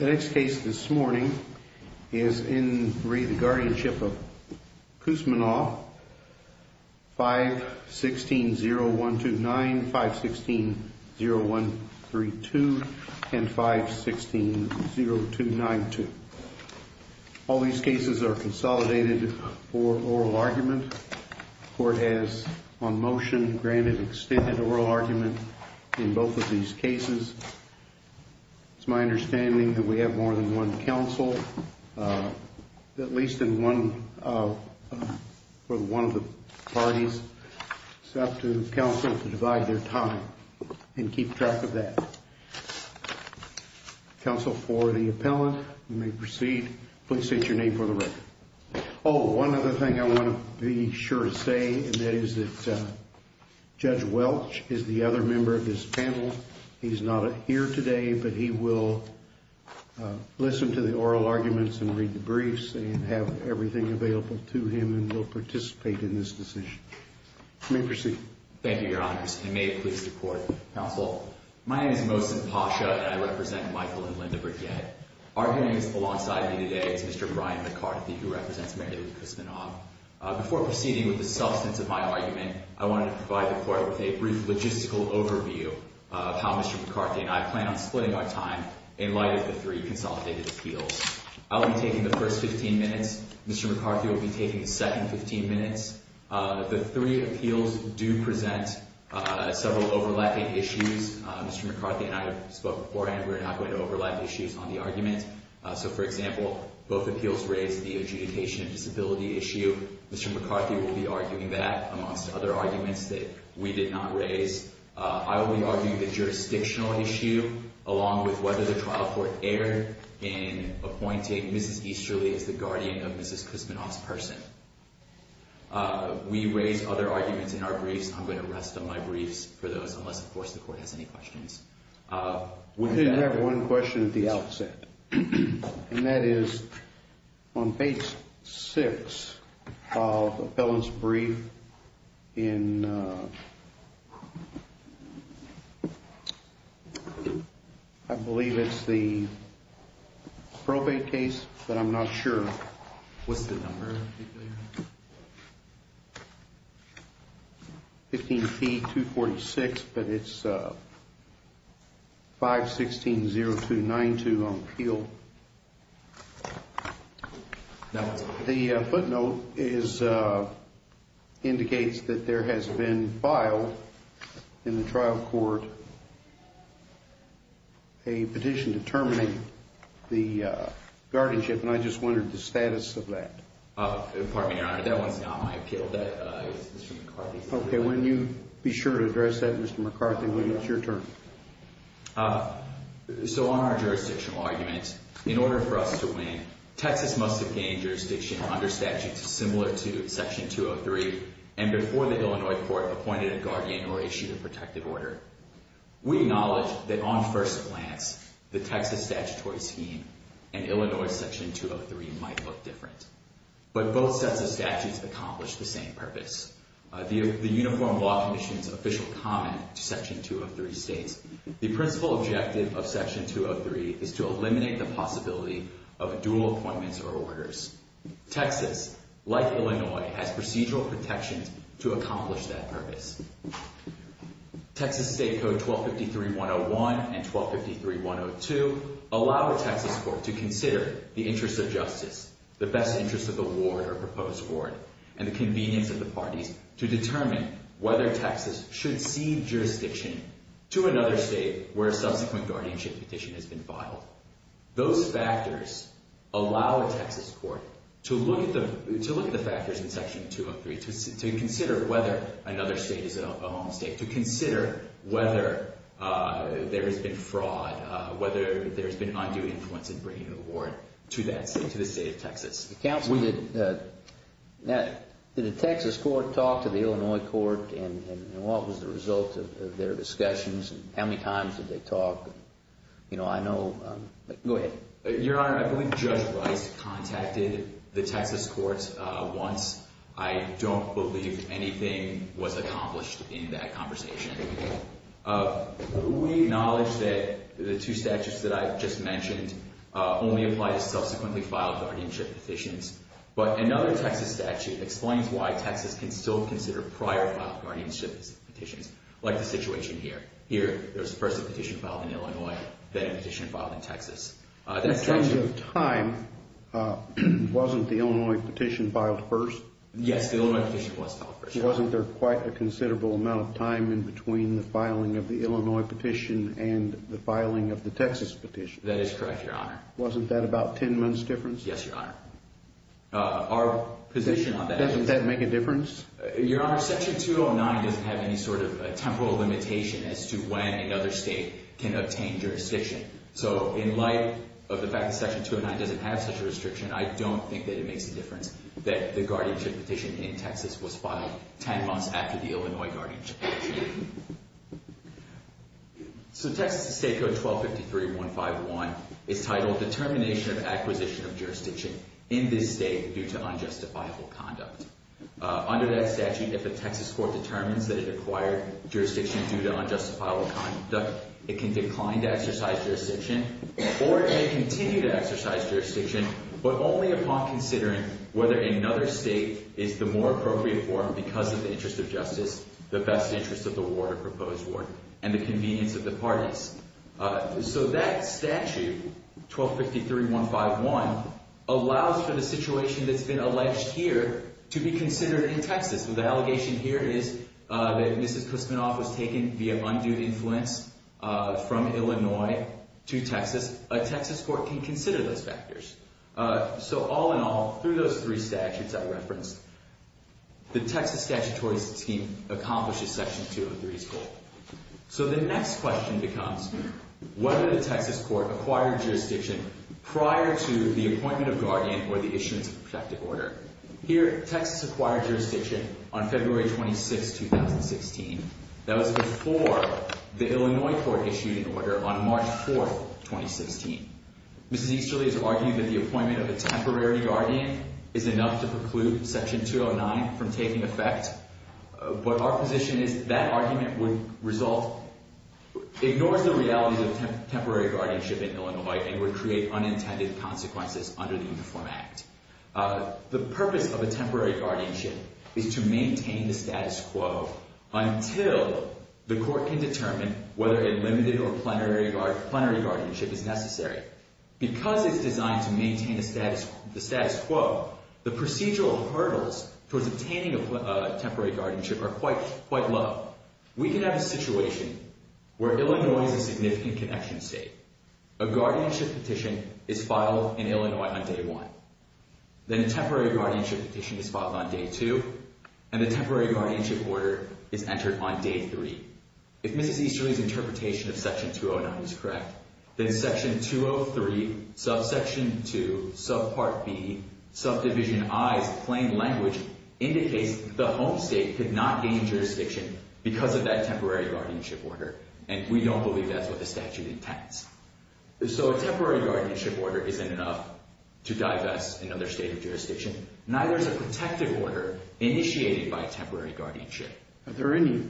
5-16-0129, 5-16-0132, and 5-16-0292. All these cases are consolidated for oral argument. Court has on motion granted extended oral argument in both of these cases. It's my understanding that we have more than one counsel, at least in one of the parties. It's up to counsel to divide their time and keep track of that. Counsel for the appellant, you may proceed. Please state your name for the record. Oh, one other thing I want to be sure to say, and that is that Judge Welch is the other member of this panel. He's not here today, but he will listen to the oral arguments and read the briefs and have everything available to him and will participate in this decision. You may proceed. Thank you, Your Honor. You may please report. Counsel, my name is Mohsin Pasha, and I represent Michael and Linda Bridget. Arguing alongside me today is Mr. Brian McCarthy, who represents Mary Lou Kusmanoff. Before proceeding with the substance of my argument, I want to provide the court with a brief logistical overview of how Mr. McCarthy and I plan on splitting our time in light of the three consolidated appeals. I'll be taking the first 15 minutes. Mr. McCarthy will be taking the second 15 minutes. The three appeals do present several overlapping issues. Mr. McCarthy and I have spoken before, and we're not going to overlap issues on the argument. So, for example, both appeals raise the adjudication and stability issue. Mr. McCarthy will be arguing that, amongst other arguments that we did not raise. I will be arguing the jurisdictional issue, along with whether the trial court erred in appointing Mrs. Easterly as the guardian of Mrs. Kusmanoff's person. We raised other arguments in our briefs. I'm going to rest on my briefs for those, unless, of course, the court has any questions. We did have one question at the outset, and that is, on page 6 of the felon's brief in, I believe it's the probate case, but I'm not sure what the number is. 15P246, but it's 516.0292 on appeal. The footnote indicates that there has been filed in the trial court a petition determining the guardianship, and I just wondered the status of that. Pardon me, Your Honor, that was not my appeal. Okay, be sure to address that, Mr. McCarthy, when it's your turn. So, on our jurisdictional argument, in order for us to win, Texas must obtain jurisdiction under statutes similar to Section 203, and before the Illinois court appointed a guardian or issued a protective order. We acknowledge that, on first glance, the Texas statutory scheme and Illinois Section 203 might look different, but both sets of statutes accomplish the same purpose. The Uniform Law Commission's official comment to Section 203 states, the principal objective of Section 203 is to eliminate the possibility of dual appointments or orders. Texas, like Illinois, had procedural protection to accomplish that purpose. Texas State Code 1253-101 and 1253-102 allow a Texas court to consider the interest of justice, the best interest of the ward or proposed ward, and the convenience of the party to determine whether Texas should cede jurisdiction to another state where a subsequent guardianship petition has been filed. Those factors allow a Texas court to look at the factors in Section 203, to consider whether another state is a home state, to consider whether there has been fraud, whether there has been undue influence in bringing the ward to the state of Texas. Did the Texas court talk to the Illinois court, and what was the result of their discussions, and how many times did they talk? Your Honor, I believe Joe Rice contacted the Texas court once. I don't believe anything was accomplished in that conversation. We acknowledge that the two statutes that I just mentioned only apply to subsequently filed guardianship petitions, but another Texas statute explains why Texas can still consider prior filed guardianship petitions, like the situation here. Here, there's a present petition filed in Illinois, and a petition filed in Texas. In terms of time, wasn't the Illinois petition filed first? Yes, the Illinois petition was filed first. Wasn't there quite a considerable amount of time in between the filing of the Illinois petition and the filing of the Texas petition? That is correct, Your Honor. Wasn't that about ten months' difference? Yes, Your Honor. Does that make a difference? Your Honor, Section 209 doesn't have any sort of temporal limitation as to when another state can obtain jurisdiction. So, in light of the fact that Section 209 doesn't have such a restriction, I don't think that it makes a difference that the guardianship petition in Texas was filed ten months after the Illinois guardianship petition. So, Texas State Code 1253.151 is titled, Determination of Acquisition of Jurisdiction in this State Due to Unjustifiable Conduct. Under that statute, if a Texas court determines that it acquired jurisdiction due to unjustifiable conduct, it can decline to exercise jurisdiction or it may continue to exercise jurisdiction, but only upon considering whether another state is the more appropriate for, because of interest of justice, the best interest of the ward or proposed ward, and the convenience of the parties. So, that statute, 1253.151, allows for the situation that's been alleged here to be considered in Texas. So, the allegation here is that Mr. Kuspinoff was taking the abundance of influence from Illinois to Texas. A Texas court can consider those factors. So, all in all, through those three statutes I referenced, the Texas statutory scheme accomplishes Section 203's goal. So, the next question becomes, whether the Texas court acquired jurisdiction prior to the appointment of guardian or the issuance of protective order. Here, Texas acquired jurisdiction on February 26, 2016. That was before the Illinois court issued an order on March 4, 2016. Mr. Easterly is arguing that the appointment of a temporary guardian is enough to preclude Section 209 from taking effect, but our position is that argument would ignore the reality of temporary guardianship in Illinois and would create unintended consequences under the Uniform Act. The purpose of a temporary guardianship is to maintain the status quo until the court can determine whether a limited or plenary guardianship is necessary. Because it's designed to maintain the status quo, the procedural hurdles for obtaining a temporary guardianship are quite low. We can have a situation where Illinois is a significant connection state. A guardianship petition is filed in Illinois on Day 1. Then a temporary guardianship petition is filed on Day 2. And a temporary guardianship order is entered on Day 3. Mr. Easterly's interpretation of Section 209 is correct. That in Section 203, Subsection 2, Subpart B, Subdivision I, plain language, indicates the home state could not gain jurisdiction because of that temporary guardianship order. And we don't believe that's what the statute intends. So a temporary guardianship order is enough to divest another state of jurisdiction. Neither is a protective order initiated by temporary guardianship. Are there any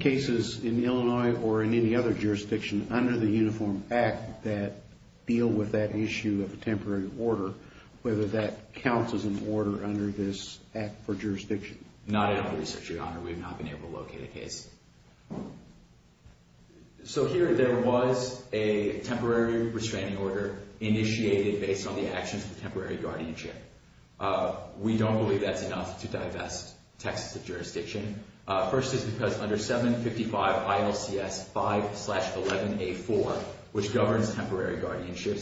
cases in Illinois or in any other jurisdiction under the Uniform Act that deal with that issue of a temporary order? Whether that counts as an order under this act for jurisdiction? Not under this jurisdiction, Your Honor. We have not been able to locate a case. So here there was a temporary restraining order initiated based on the actions of temporary guardianship. We don't believe that's enough to divest Texas of jurisdiction. First is because under 755 ILCS 5-11-A-4, which governs temporary guardianship,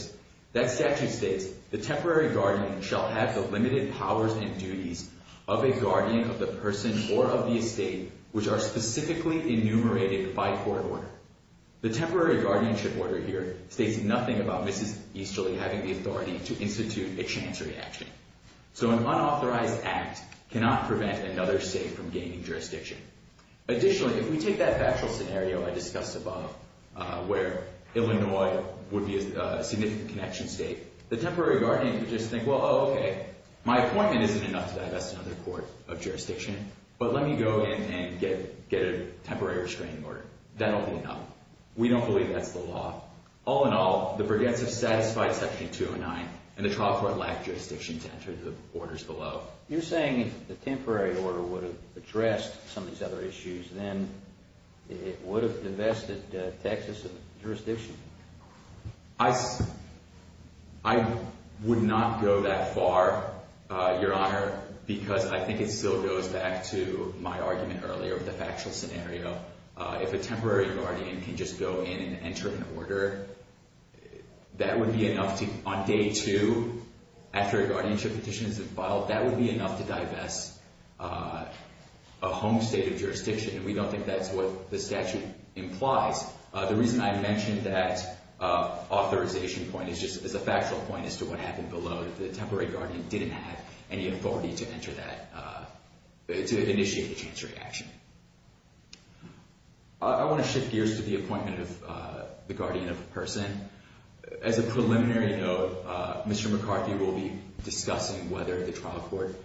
that statute states, the temporary guardian shall have the limited powers and duties of a guardian of the person or of the estate which are specifically enumerated by court order. The temporary guardianship order here states nothing about Mrs. Easterly having the authority to institute a chancery action. So an unauthorized act cannot prevent another state from gaining jurisdiction. Additionally, if we take that factual scenario I discussed above, where Illinois would be a significant connection state, the temporary guardians would just think, well, okay, my appointment isn't enough to divest another court of jurisdiction, but let me go in and get a temporary restraining order. That'll be enough. We don't believe that's the law. All in all, the preventive status by Section 209 and the child court lack jurisdiction to enter the borders below. You're saying if the temporary order would have addressed some of these other issues, then it would have divested Texas of jurisdiction. I would not go that far, Your Honor, because I think it still goes back to my argument earlier with the factual scenario. If a temporary guardian can just go in and enter an order, that would be enough. On day two, after a guardianship petition is filed, that would be enough to divest a home state of jurisdiction. We don't think that's what the statute implies. The reason I mentioned that authorization point is just that the factual point is to what happened below. The temporary guardian didn't have any authority to enter that, to initiate a cancer reaction. I want to shift gears to the appointment of the guardian of a person. As a preliminary note, Mr. McCarthy will be discussing whether the trial court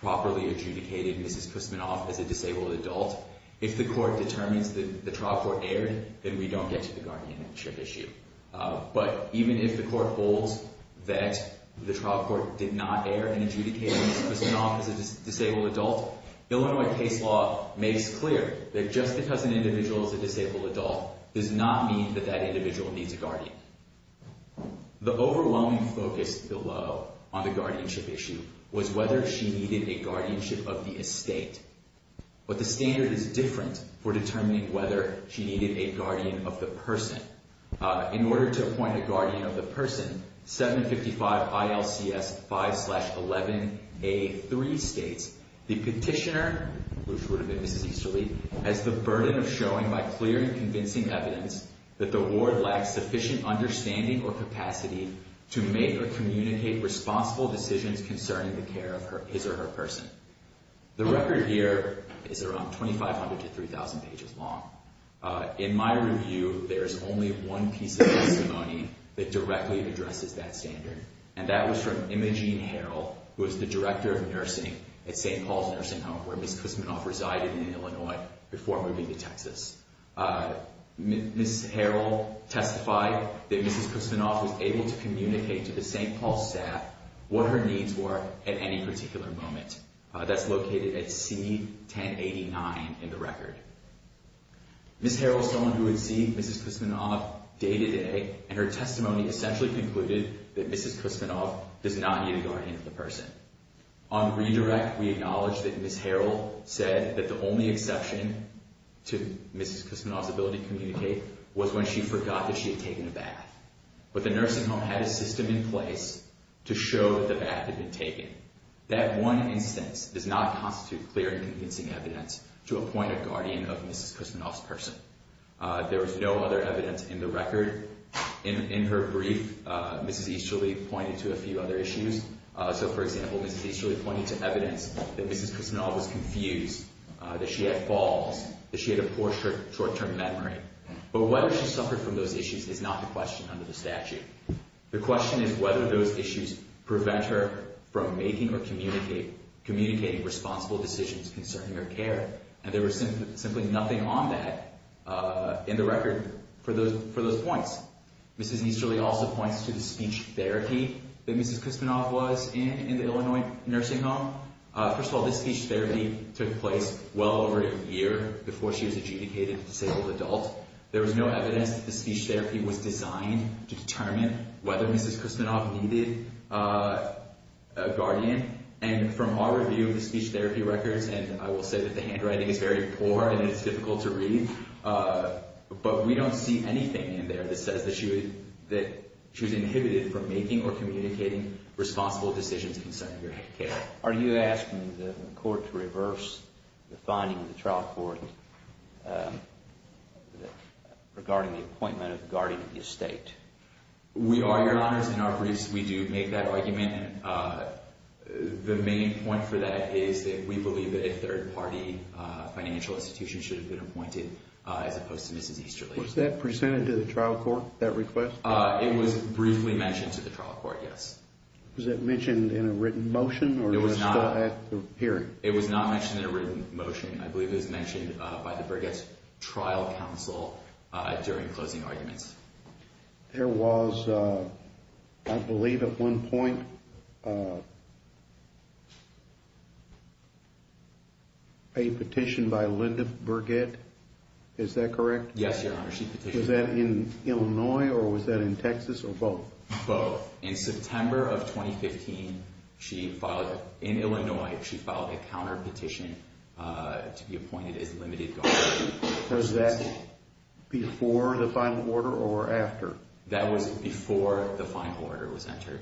properly adjudicated Mrs. Kuzminoff as a disabled adult. If the court determines that the trial court erred, then we don't get to the guardianship issue. But even if the court holds that the trial court did not err in adjudicating Mrs. Kuzminoff as a disabled adult, Illinois state law made it clear that just because an individual is a disabled adult does not mean that that individual needs a guardian. The overwhelming focus below on the guardianship issue was whether she needed a guardianship of the estate. But the standard is different for determining whether she needed a guardian of the person. In order to appoint a guardian of the person, 755 ILCS 511A3 states, the petitioner, which would have been Ms. Easterly, has the burden of showing by clear and convincing evidence that the ward lacks sufficient understanding or capacity to make or communicate responsible decisions concerning the care of his or her person. The record here is around 2,500 to 3,000 pages long. In my review, there's only one piece of testimony that directly addresses that standard, and that was from Imogene Harrell, who was the director of nursing at St. Paul's Nursing Home, where Mrs. Kuzminoff resided in Illinois before moving to Texas. Mrs. Harrell testified that Mrs. Kuzminoff was able to communicate to the St. Paul staff what her needs were at any particular moment. That's located at C1089 in the record. Mrs. Harrell was someone who had seen Mrs. Kuzminoff day to day, and her testimony essentially concluded that Mrs. Kuzminoff did not need a guardian of the person. On redirect, we acknowledge that Mrs. Harrell said that the only exception to Mrs. Kuzminoff's ability to communicate was when she forgot that she had taken a bath. But the nursing home had a system in place to show that a bath had been taken. That one instance does not constitute clear and convincing evidence to appoint a guardian of Mrs. Kuzminoff's person. There is no other evidence in the record. In her brief, Mrs. Easterly pointed to a few other issues. So, for example, Mrs. Easterly pointed to evidence that Mrs. Kuzminoff was confused, that she had falls, that she had a poor short-term memory. But whether she suffered from those issues is not the question under the statute. The question is whether those issues prevent her from making or communicating responsible decisions concerning her care. And there was simply nothing on that in the record for those points. Mrs. Easterly also pointed to the speech therapy that Mrs. Kuzminoff was in, in the Illinois nursing home. First of all, the speech therapy took place well over a year before she was adjudicated as a disabled adult. There was no evidence that the speech therapy was designed to determine whether Mrs. Kuzminoff needed a guardian. And from our review of the speech therapy records, and I will say that the handwriting is very poor and it's difficult to read, but we don't see anything in there that says that she was inhibited from making or communicating responsible decisions concerning her care. Are you asking the court to reverse the finding of the trial court regarding the appointment of the guardian of the estate? We are, Your Honor. In our briefs, we do make that argument. The main point for that is that we believe that a third-party financial institution should have been appointed as opposed to Mrs. Easterly. Was that presented to the trial court, that request? It was briefly mentioned to the trial court, yes. Was that mentioned in a written motion or was it still at the hearing? It was not mentioned in a written motion. I believe it was mentioned by the Bridges Trial Council during closing arguments. There was, I believe at one point, a petition by Linda Burgett. Is that correct? Yes, Your Honor. Was that in Illinois or was that in Texas or both? Both. In September of 2015, in Illinois, she filed a counterpetition to be appointed as limited guardian. Was that before the final order or after? That was before the final order was entered.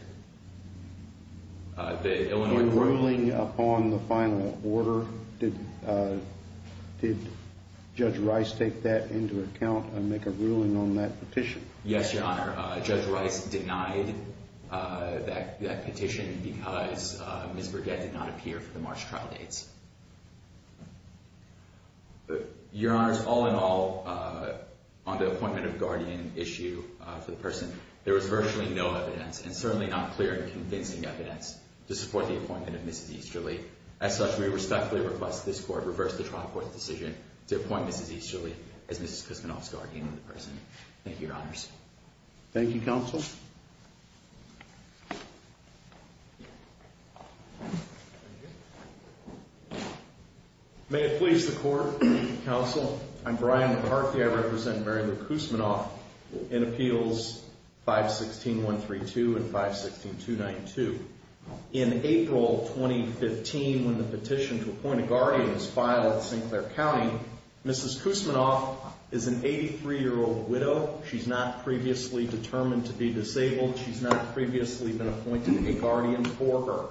When ruling upon the final order, did Judge Rice take that into account and make a ruling on that petition? Yes, Your Honor. Judge Rice denied that petition because Linda Burgett did not appear for the March trial dates. Your Honor, all in all, on the appointment of guardian issue to the person, there was virtually no evidence, and certainly not clear and convincing evidence to support the appointment of Mrs. Easterly. As such, we respectfully request this court reverse the trial court decision to appoint Mrs. Easterly as Ms. Crispinoff's guardian of the person. Thank you, Your Honors. Thank you, Counsel. May it please the Court, Counsel, I'm Brian McCarthy. I represent Mary Lou Crispinoff in Appeals 516.132 and 516.292. In April 2015, when the petition to appoint a guardian was filed in St. Clair County, Mrs. Crispinoff is an 83-year-old widow. She's not previously determined to be disabled. She's not previously been appointed a guardian for her.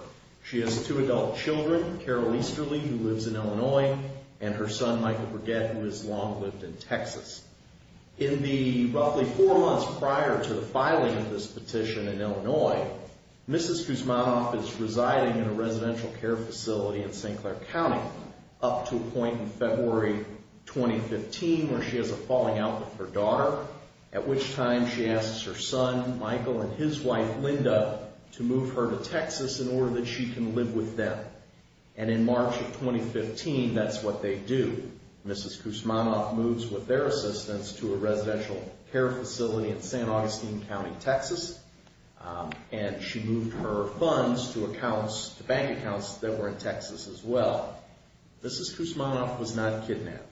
She has two adult children, Carol Easterly, who lives in Illinois, and her son, Michael Burgett, who has long lived in Texas. In the roughly four months prior to the filing of this petition in Illinois, Mrs. Crispinoff is residing in a residential care facility in St. Clair County up to a point in February 2015 where she has a falling out with her daughter, at which time she asks her son, Michael, and his wife, Linda, to move her to Texas in order that she can live with them. And in March of 2015, that's what they do. Mrs. Crispinoff moves with their assistance to a residential care facility in St. Augustine County, Texas, and she moved her funds to bank accounts that were in Texas as well. Mrs. Crispinoff was not kidnapped.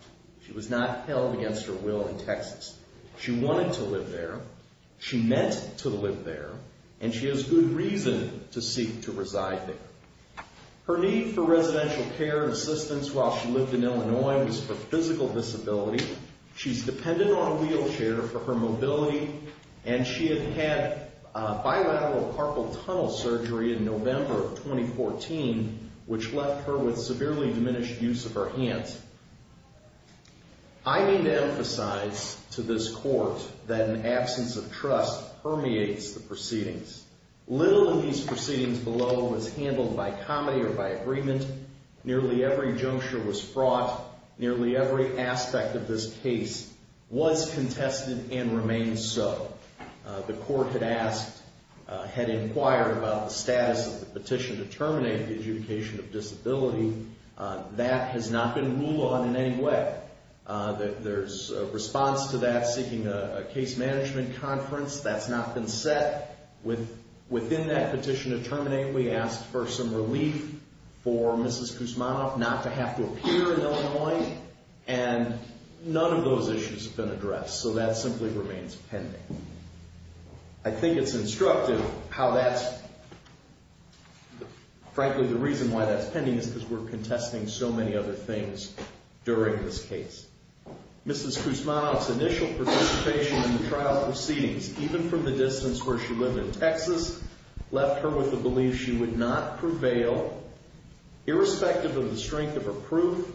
She was not held against her will in Texas. She wanted to live there. She meant to live there, and she has good reason to seek to reside there. Her need for residential care assistance while she lived in Illinois was for physical disability. She's dependent on a wheelchair for her mobility, and she had had bilateral carpal tunnel surgery in November of 2014, which left her with severely diminished use of her hands. I need to emphasize to this court that an absence of trust permeates the proceedings. Little of these proceedings below was handled by comedy or by agreement. Nearly every juncture was fraught. Nearly every aspect of this case was contested and remains so. The court had inquired about the status of the petition to terminate the adjudication of disability. That has not been ruled on in any way. There's a response to that seeking a case management conference. That's not been set. Within that petition to terminate, we asked for some relief for Mrs. Crispinoff not to have to appear in Illinois, and none of those issues have been addressed, so that simply remains pending. I think it's instructive how that's, frankly, the reason why that's pending is because we're contesting so many other things during this case. Mrs. Crispinoff's initial participation in the trial proceedings, even from the distance where she lived in Texas, left her with the belief she would not prevail, irrespective of the strength of her proof,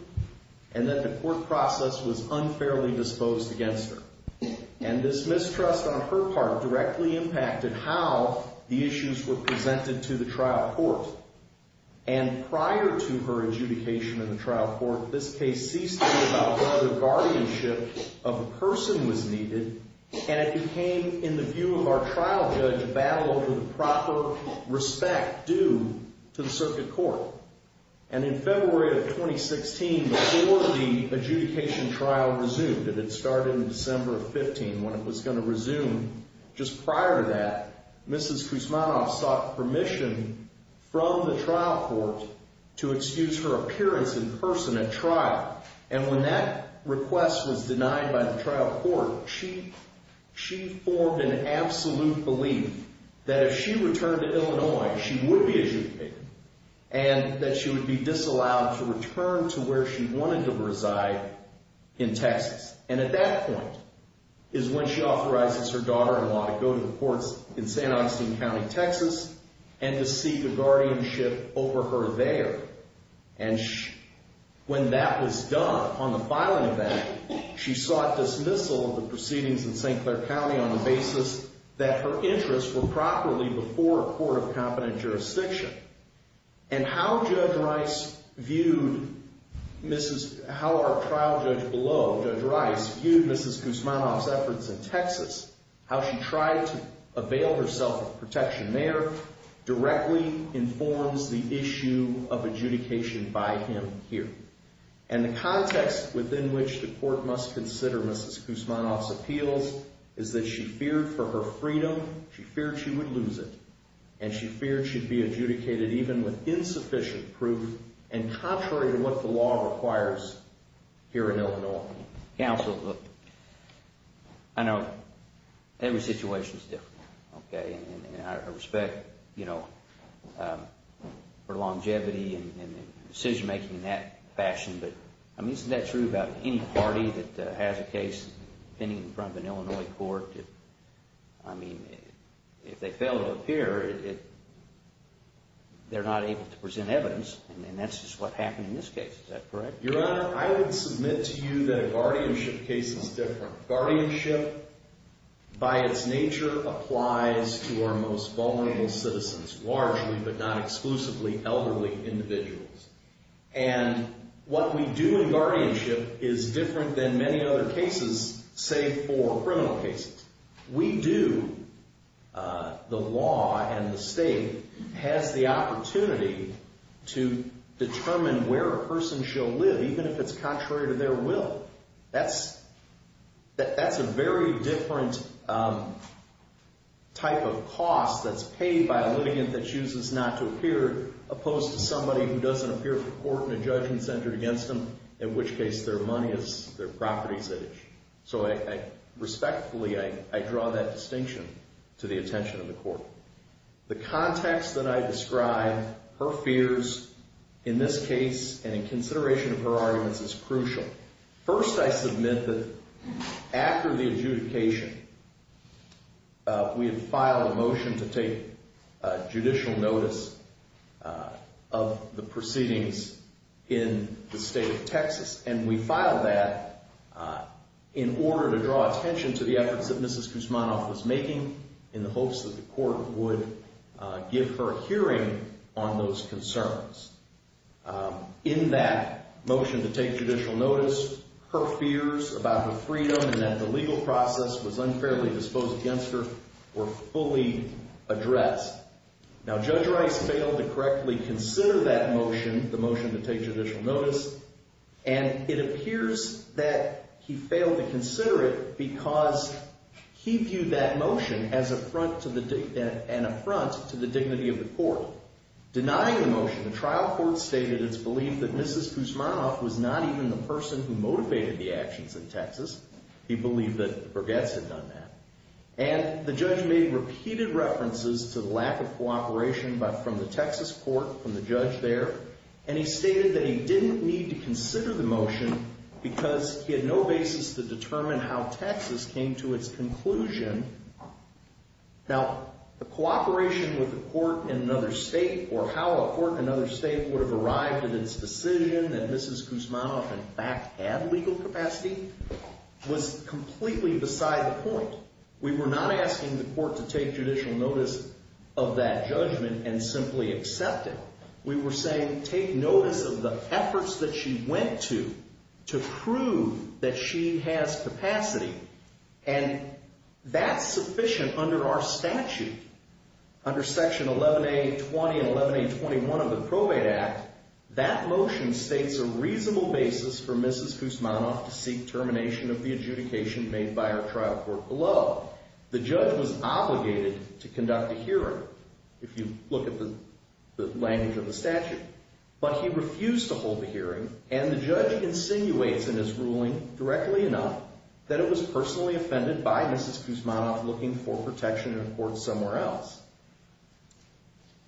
and that the court process was unfairly disposed against her. And this mistrust on her part directly impacted how the issues were presented to the trial court. And prior to her adjudication in the trial court, this case teased to me about whether guardianship of a person was needed, and it became, in the view of our trial judge, a battle over the proper respect due to the circuit court. And in February of 2016, before the adjudication trial resumed, and it started in December of 15, when it was going to resume just prior to that, Mrs. Crispinoff sought permission from the trial court to excuse her appearance in person at trial. And when that request was denied by the trial court, she formed an absolute belief that if she returned to Illinois, she would be excused, and that she would be disallowed to return to where she wanted to reside in Texas. And at that point is when she authorizes her daughter to want to go to the courts in St. Augustine County, Texas, and to seek a guardianship over her there. And when that was done, on the filing of that, she sought dismissal of the proceedings in St. Clair County on the basis that her interests were properly before a court of competent jurisdiction. And how Judge Rice viewed Mrs. Crispinoff's efforts in Texas, how she tried to avail herself of protection there, directly informs the issue of adjudication by him here. And the context within which the court must consider Mrs. Crispinoff's appeals is that she feared for her freedom, she feared she would lose it, and she feared she'd be adjudicated even with insufficient proof, and contrary to what the law requires here in Illinois. Counsel, I know every situation is different. Okay, and I respect, you know, her longevity and decision-making in that fashion, but isn't that true about any party that has a case pending in front of an Illinois court? I mean, if they fail to appear, they're not able to present evidence, and that's just what happened in this case. Is that correct? Your Honor, I would submit to you that a guardianship case is different. Guardianship, by its nature, applies to our most vulnerable citizens, largely, but not exclusively, elderly individuals. And what we do in guardianship is different than many other cases, say, for criminal cases. We do, the law and the state, have the opportunity to determine where a person shall live, and even if it's contrary to their will, that's a very different type of cost that's paid by a litigant that chooses not to appear, opposed to somebody who doesn't appear before the court in a judgment centered against them, in which case their money is their property. So respectfully, I draw that distinction to the attention of the court. The context that I describe, her fears in this case, and in consideration of her arguments, is crucial. First, I submit that after the adjudication, we filed a motion to take judicial notice of the proceedings in the state of Texas, and we filed that in order to draw attention to the efforts that Mrs. Kuzmanoff was making, and the hopes that the court would give her a hearing on those concerns. In that motion to take judicial notice, her fears about her freedom and that the legal process was unfairly disposed against her were fully addressed. Now, Judge Rice failed to correctly consider that motion, the motion to take judicial notice, and it appears that he failed to consider it because he viewed that motion as an affront to the dignity of the court. Denying the motion, the trial court stated its belief that Mrs. Kuzmanoff was not even the person who motivated the actions in Texas. He believed that Burgett had done that. And the judge made repeated references to the lack of cooperation from the Texas court, from the judge there, and he stated that he didn't need to consider the motion because he had no basis to determine how Texas came to its conclusion. Now, the cooperation with the court in another state or how a court in another state would have arrived at its decision that Mrs. Kuzmanoff in fact had legal capacity was completely beside the point. We were not asking the court to take judicial notice of that judgment and simply accept it. We were saying take notice of the efforts that she went to to prove that she has capacity, and that's sufficient under our statute, under Section 11A, 20, and 11A and 21 of the PROA Act. That motion states a reasonable basis for Mrs. Kuzmanoff to seek termination of the adjudication made by our trial court below. The judge was obligated to conduct a hearing, if you look at the language of the statute, but he refused to hold a hearing and the judge insinuates in his ruling directly enough that it was personally offended by Mrs. Kuzmanoff looking for protection in a court somewhere else.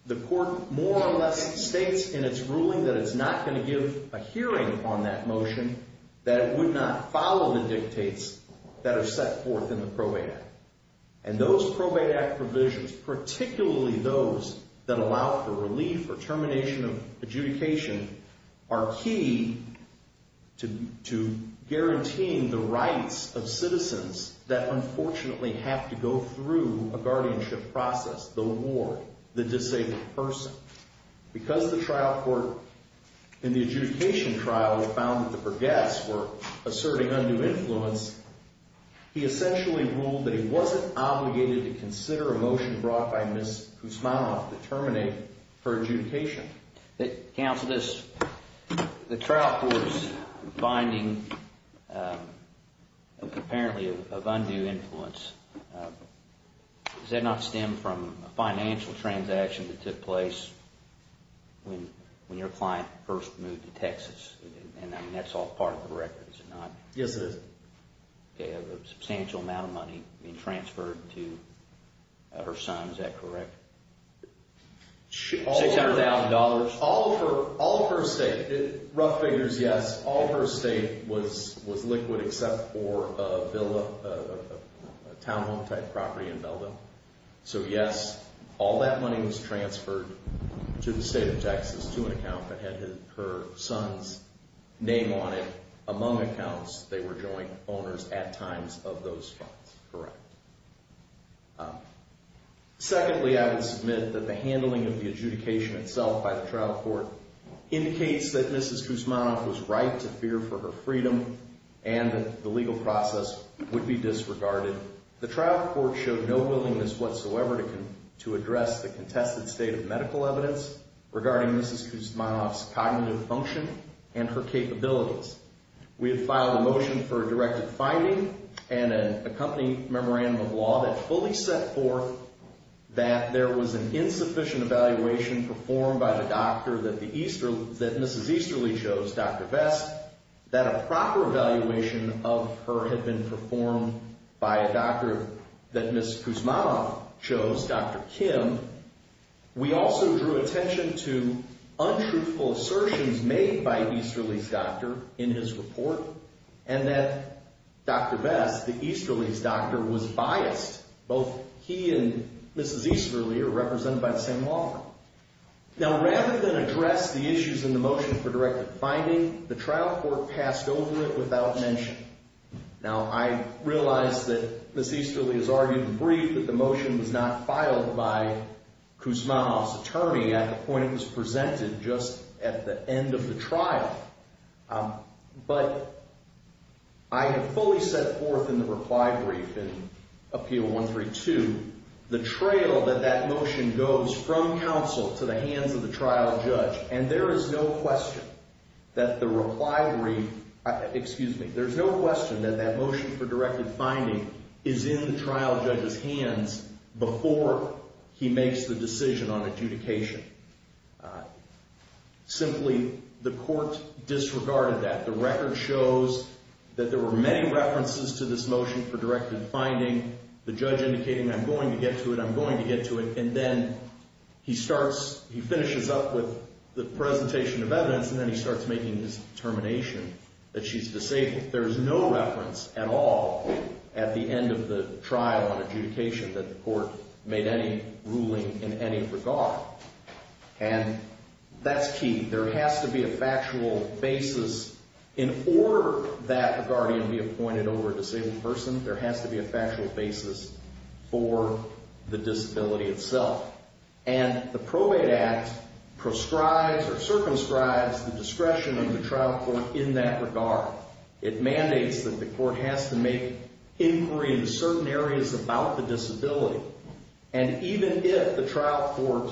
The court more or less states in its ruling that it's not going to give a hearing on that motion that would not follow the dictates that are set forth in the PROA Act. And those PROA Act provisions, particularly those that allow for relief or termination of adjudication, are key to guaranteeing the rights of citizens that unfortunately have to go through a guardianship process, the ward, the disabled person. Because the trial court in the adjudication trial found that the burghess were asserting undue influence, he essentially ruled that he wasn't obligated to consider a motion brought by Mrs. Kuzmanoff to terminate her adjudication. Counsel, the trial court's finding apparently of undue influence, does that not stem from a financial transaction that took place when your client first moved to Texas? And that's all part of the record, is it not? Yes, sir. A substantial amount of money being transferred to her son, is that correct? $200,000. All of her estate, rough figures, yes. All of her estate was liquid except for a townhome type property in Melbourne. So, yes, all that money was transferred to the state of Texas to an account that had her son's name on it. Among accounts, they were joint owners at times of those funds. Correct. Secondly, I would submit that the handling of the adjudication itself by the trial court indicates that Mrs. Kuzmanoff was right to fear for her freedom and that the legal process would be disregarded. The trial court showed no willingness whatsoever to address the contested state of medical evidence regarding Mrs. Kuzmanoff's cognitive function and her capabilities. We have filed a motion for a directed finding and an accompanying memorandum of law that fully set forth that there was an insufficient evaluation performed by the doctor that Mrs. Easterly chose, Dr. Vest, that a proper evaluation of her had been performed by a doctor that Mrs. Kuzmanoff chose, Dr. Kim. We also drew attention to untruthful assertions made by Easterly's doctor in his report and that Dr. Vest, the Easterly's doctor, was biased. Both he and Mrs. Easterly are represented by the same law. Now, rather than address the issues in the motion for directed finding, the trial court passed over it without mention. Now, I realize that Mrs. Easterly has argued in brief that the motion was not filed by Kuzmanoff's attorney at the point it was presented just at the end of the trial. But I have fully set forth in the reply brief in Appeal 132 the trail that that motion goes from counsel to the hands of the trial judge, and there is no question that the reply brief, excuse me, there's no question that that motion for directed finding is in the trial judge's hands before he makes the decision on adjudication. Simply, the court disregarded that. The record shows that there were many references to this motion for directed finding. The judge indicated, I'm going to get to it, I'm going to get to it, and then he starts, he finishes up with the presentation of evidence, and then he starts making this determination that she's disabled. There's no reference at all at the end of the trial adjudication that the court made any ruling in any regard. And that's key. There has to be a factual basis in order that guardian be appointed over the same person. There has to be a factual basis for the disability itself. And the Probate Act proscribes or circumscribes the discretion of the trial court in that regard. It mandates that the court has to make inquiry in certain areas about the disability. And even if the trial court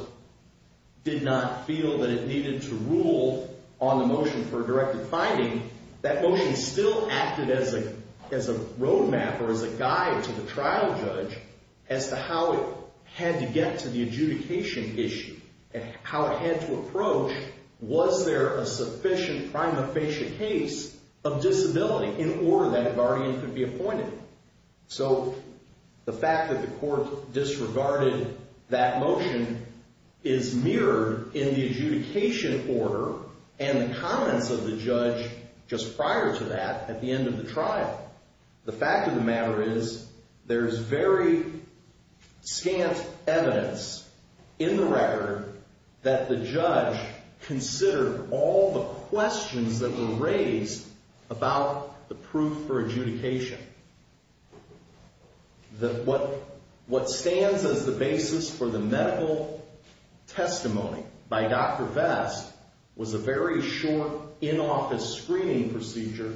did not feel that it needed to rule on the motion for directed finding, that motion still acted as a roadmap or as a guide to the trial judge as to how it had to get to the adjudication issue and how it had to approach was there a sufficient prima facie case of disability in order that guardian could be appointed. So the fact that the court disregarded that motion is mirrored in the adjudication order and the comments of the judge just prior to that at the end of the trial. The fact of the matter is there is very scant evidence in the record that the judge considered all the questions that were raised about the proof for adjudication. What stands as the basis for the medical testimony by Dr. Vest was a very short in-office screening procedure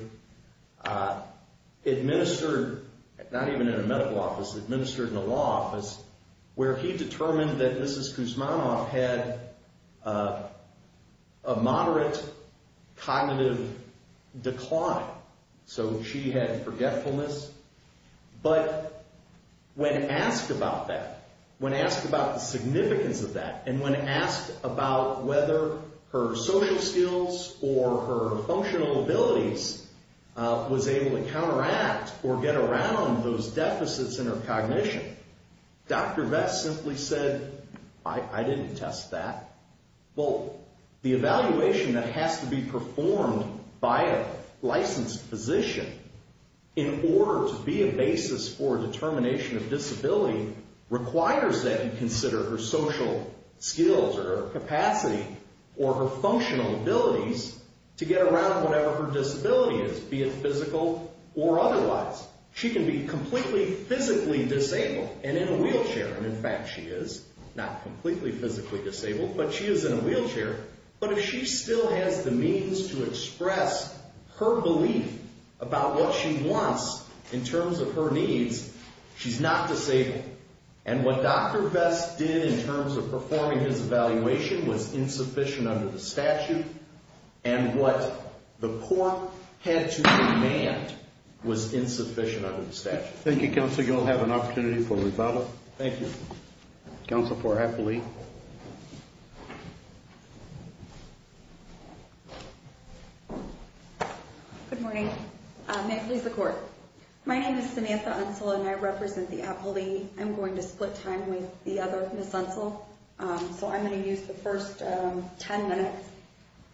administered not even in a medical office, administered in a law office, where he determined that Mrs. Kuzmanoff had a moderate cognitive decline. So she had forgetfulness. But when asked about that, when asked about the significance of that, and when asked about whether her social skills or her functional abilities was able to counteract or get around those deficits in her cognition, Dr. Vest simply said, I didn't test that. Well, the evaluation that has to be performed by a licensed physician in order to be a basis for determination of disability requires that we consider her social skills or her capacity or her functional abilities to get around whatever her disability is, be it physical or otherwise. She can be completely physically disabled and in a wheelchair. And in fact, she is not completely physically disabled, but she is in a wheelchair. But if she still has the means to express her belief about what she wants in terms of her needs, she's not disabled. And what Dr. Vest did in terms of performing his evaluation was insufficient under the statute, and what the court had to demand was insufficient under the statute. Thank you, Counselor. You'll have an opportunity for rebuttal. Thank you. Counsel for Appleby. Good morning. May it please the Court. My name is Vanessa Unsell, and I represent the Appleby. I'm going to split time with the others, Ms. Unsell. So I'm going to use the first 10 minutes.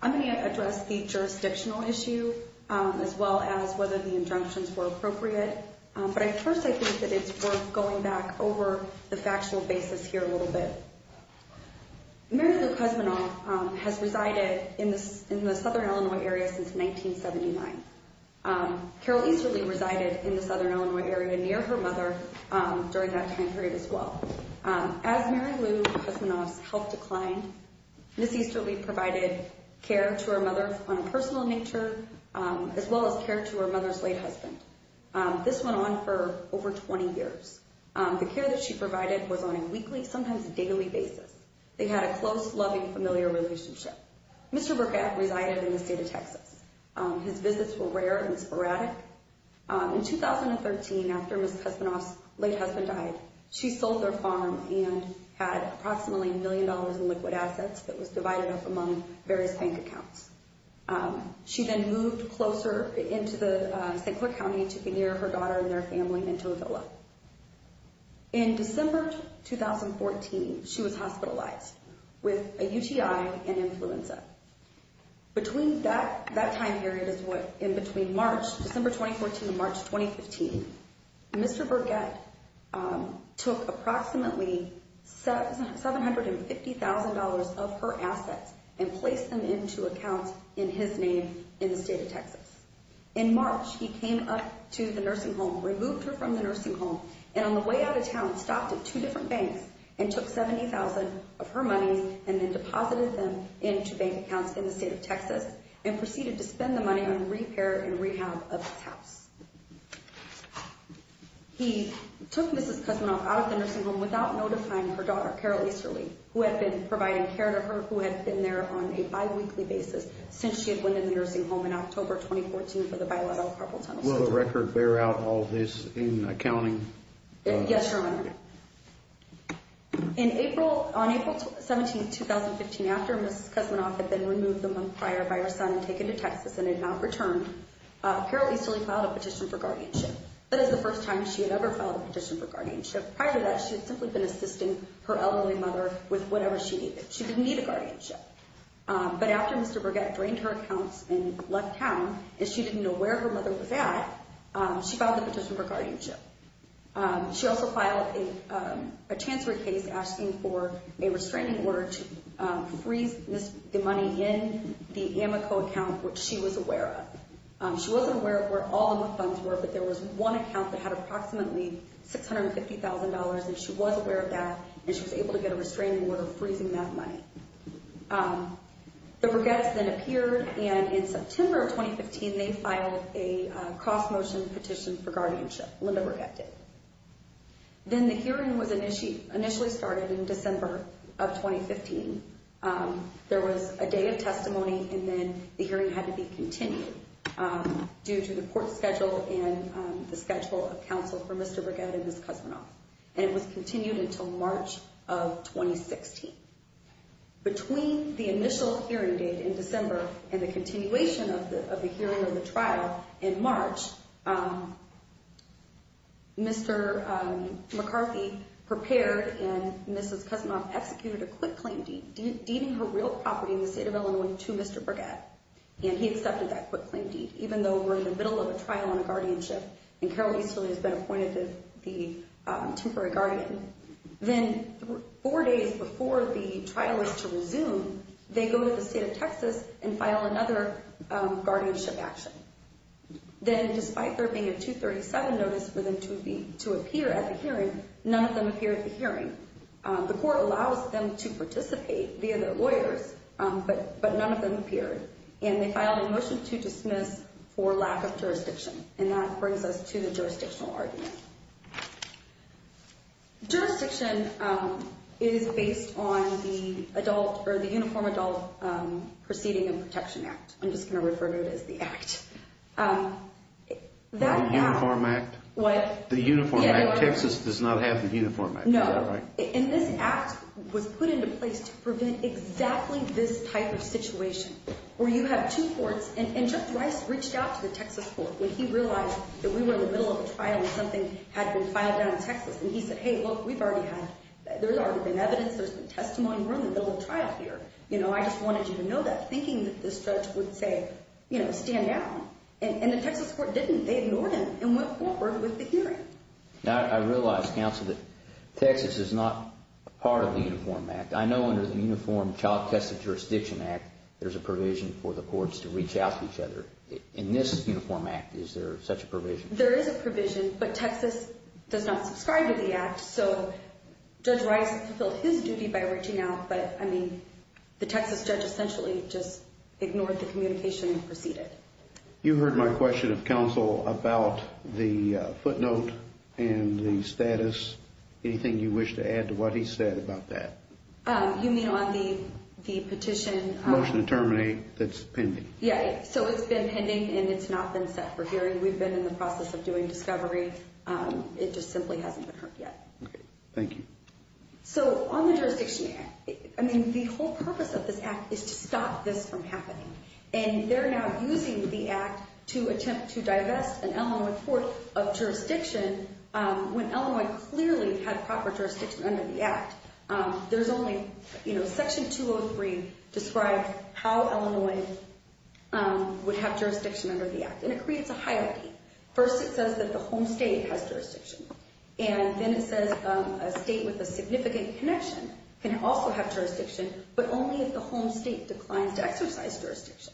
I'm going to address the jurisdictional issue as well as whether the injunctions were appropriate. But first, I think that it's worth going back over the factual basis here a little bit. Mary Lou Pesmanoff has resided in the Southern Illinois area since 1979. Carol Easterly resided in the Southern Illinois area near her mother during that time period as well. As Mary Lou Pesmanoff's health declined, Ms. Easterly provided care to her mother on a personal nature as well as care to her mother's late husband. This went on for over 20 years. The care that she provided was on a weekly, sometimes a daily basis. They had a close, loving, familiar relationship. Mr. Burkett resided in the state of Texas. His visits were rare and sporadic. In 2013, after Ms. Pesmanoff's late husband died, she sold their farm and had approximately a million dollars in liquid assets that was divided up among various bank accounts. She then moved closer into the St. Croix County to be near her daughter and their family in Tozilla. In December 2014, she was hospitalized with a UTI and influenza. Between that time period and March, December 2014 to March 2015, Mr. Burkett took approximately $750,000 of her assets and placed them into an account in his name in the state of Texas. In March, he came up to the nursing home, removed her from the nursing home, and on the way out of town stopped at two different banks and took $70,000 of her money and then deposited them into bank accounts in the state of Texas and proceeded to spend the money on repair and rehab of the house. He took Ms. Pesmanoff out of the nursing home without notifying her daughter, Carol Easterly, who had been providing care to her, who had been there on a bi-weekly basis since she had went in the nursing home in October 2014 for the bilateral problem settlement. Will the record bear out all of this in accounting? Yes, Your Honor. On April 17, 2015, after Ms. Pesmanoff had been removed a month prior by her son and taken to Texas and had not returned, Carol Easterly filed a petition for guardianship. That is the first time she had ever filed a petition for guardianship. Prior to that, she had simply been assisting her elderly mother with whatever she needed. She didn't need a guardianship. But after Mr. Burkett drained her account and left town, as she didn't know where her mother was at, she filed a petition for guardianship. She also filed a transfer case asking for a restraining order to freeze the money in the Amoco account, which she was aware of. She wasn't aware of where all of the funds were, but there was one account that had approximately $650,000, and she was aware of that, and she was able to get a restraining order freezing that money. Mr. Burkett then appeared, and in September 2015, they filed a cross-motion petition for guardianship. Then the hearing initially started in December of 2015. There was a day of testimony, and then the hearing had to be continued due to the court schedule and the schedule of counsel for Mr. Burkett and Ms. Kuzminoff. And it was continued until March of 2016. Between the initial hearing date in December and the continuation of the hearing of the trial in March, Mr. McCarthy prepared and Ms. Kuzminoff executed a quick claim deed. Even her real property in the state of Illinois was to Mr. Burkett, and he accepted that quick claim deed, even though we're in the middle of a trial on guardianship, and Carol Ainslie has been appointed to the temporary guardianship. Then four days before the trial was to resume, they go to the state of Texas and file another guardianship action. Then despite there being a 237 notice for them to appear at the hearing, none of them appeared at the hearing. The court allowed them to participate via their lawyers, but none of them appeared, and they filed a motion to dismiss for lack of jurisdiction. And that brings us to the jurisdictional argument. Jurisdiction is based on the Adult or the Uniform Adult Proceeding and Protection Act. I'm just going to refer to it as the Act. The Uniform Act? What? The Uniform Act. Texas does not have the Uniform Act. No. And this Act was put into place to prevent exactly this type of situation, where you have two courts, and Justice Rice reached out to the Texas court when he realized that we were in the middle of a trial and something had been filed out of Texas. And he said, hey, look, we've already had, there's already been evidence, there's been testimony, we're in the middle of a trial here. You know, I just wanted you to know that. Thinking that this judge would say, you know, stand down. And the Texas court didn't. They ignored him and went forward with the hearing. Now, I realize, counsel, that Texas is not part of the Uniform Act. I know under the Uniform Child Test of Jurisdiction Act, there's a provision for the courts to reach out to each other. In this Uniform Act, is there such a provision? There is a provision, but Texas does not subscribe to the Act. So, Judge Rice fulfills his duty by reaching out, but, I mean, the Texas judge essentially just ignored the communication and proceeded. You heard my question of counsel about the footnote and the status. Anything you wish to add to what he said about that? You mean on the petition? Motion to terminate that's pending. Yeah, so it's been pending and it's not been set for hearing. We've been in the process of doing discovery. It just simply hasn't occurred yet. Thank you. So, on the jurisdiction, I mean, the whole purpose of this Act is to stop this from happening. And they're now using the Act to attempt to divest an Illinois court of jurisdiction when Illinois clearly has proper jurisdiction under the Act. There's only, you know, Section 203 describes how Illinois would have jurisdiction under the Act. And it creates a hierarchy. First, it says that the home state has jurisdiction. And then it says a state with a significant connection can also have jurisdiction, but only if the home state declines to exercise jurisdiction.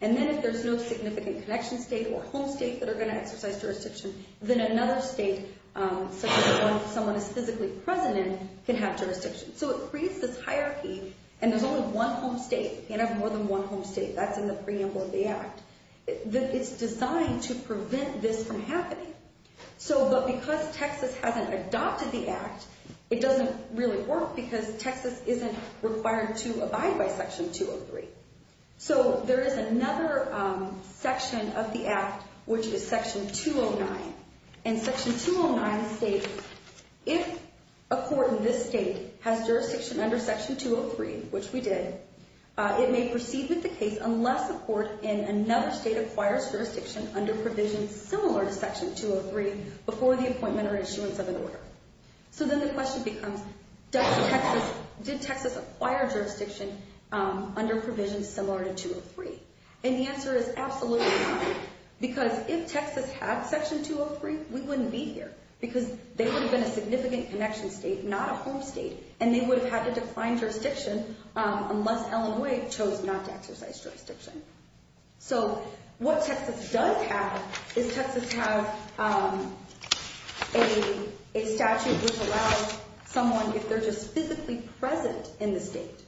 And then if there's no significant connection state or home states that are going to exercise jurisdiction, then another state, such as someone who's physically present in, can have jurisdiction. So, it creates this hierarchy, and there's only one home state. You can't have more than one home state. That's in the preamble of the Act. It's designed to prevent this from happening. So, but because Texas hasn't adopted the Act, it doesn't really work because Texas isn't required to abide by Section 203. So, there is another section of the Act, which is Section 209. And Section 209 states, if a court in this state has jurisdiction under Section 203, which we did, it may proceed with the case unless the court in another state acquires jurisdiction under provisions similar to Section 203 before the appointment or issuance of the order. So, then the question becomes, did Texas acquire jurisdiction under provisions similar to 203? And the answer is absolutely not, because if Texas had Section 203, we wouldn't be here because they would have been a significant connection state, not a home state, and they would have had a defined jurisdiction unless Illinois chose not to exercise jurisdiction. So, what Texas does have is Texas has a statute which allows someone, if they're just physically present in the state,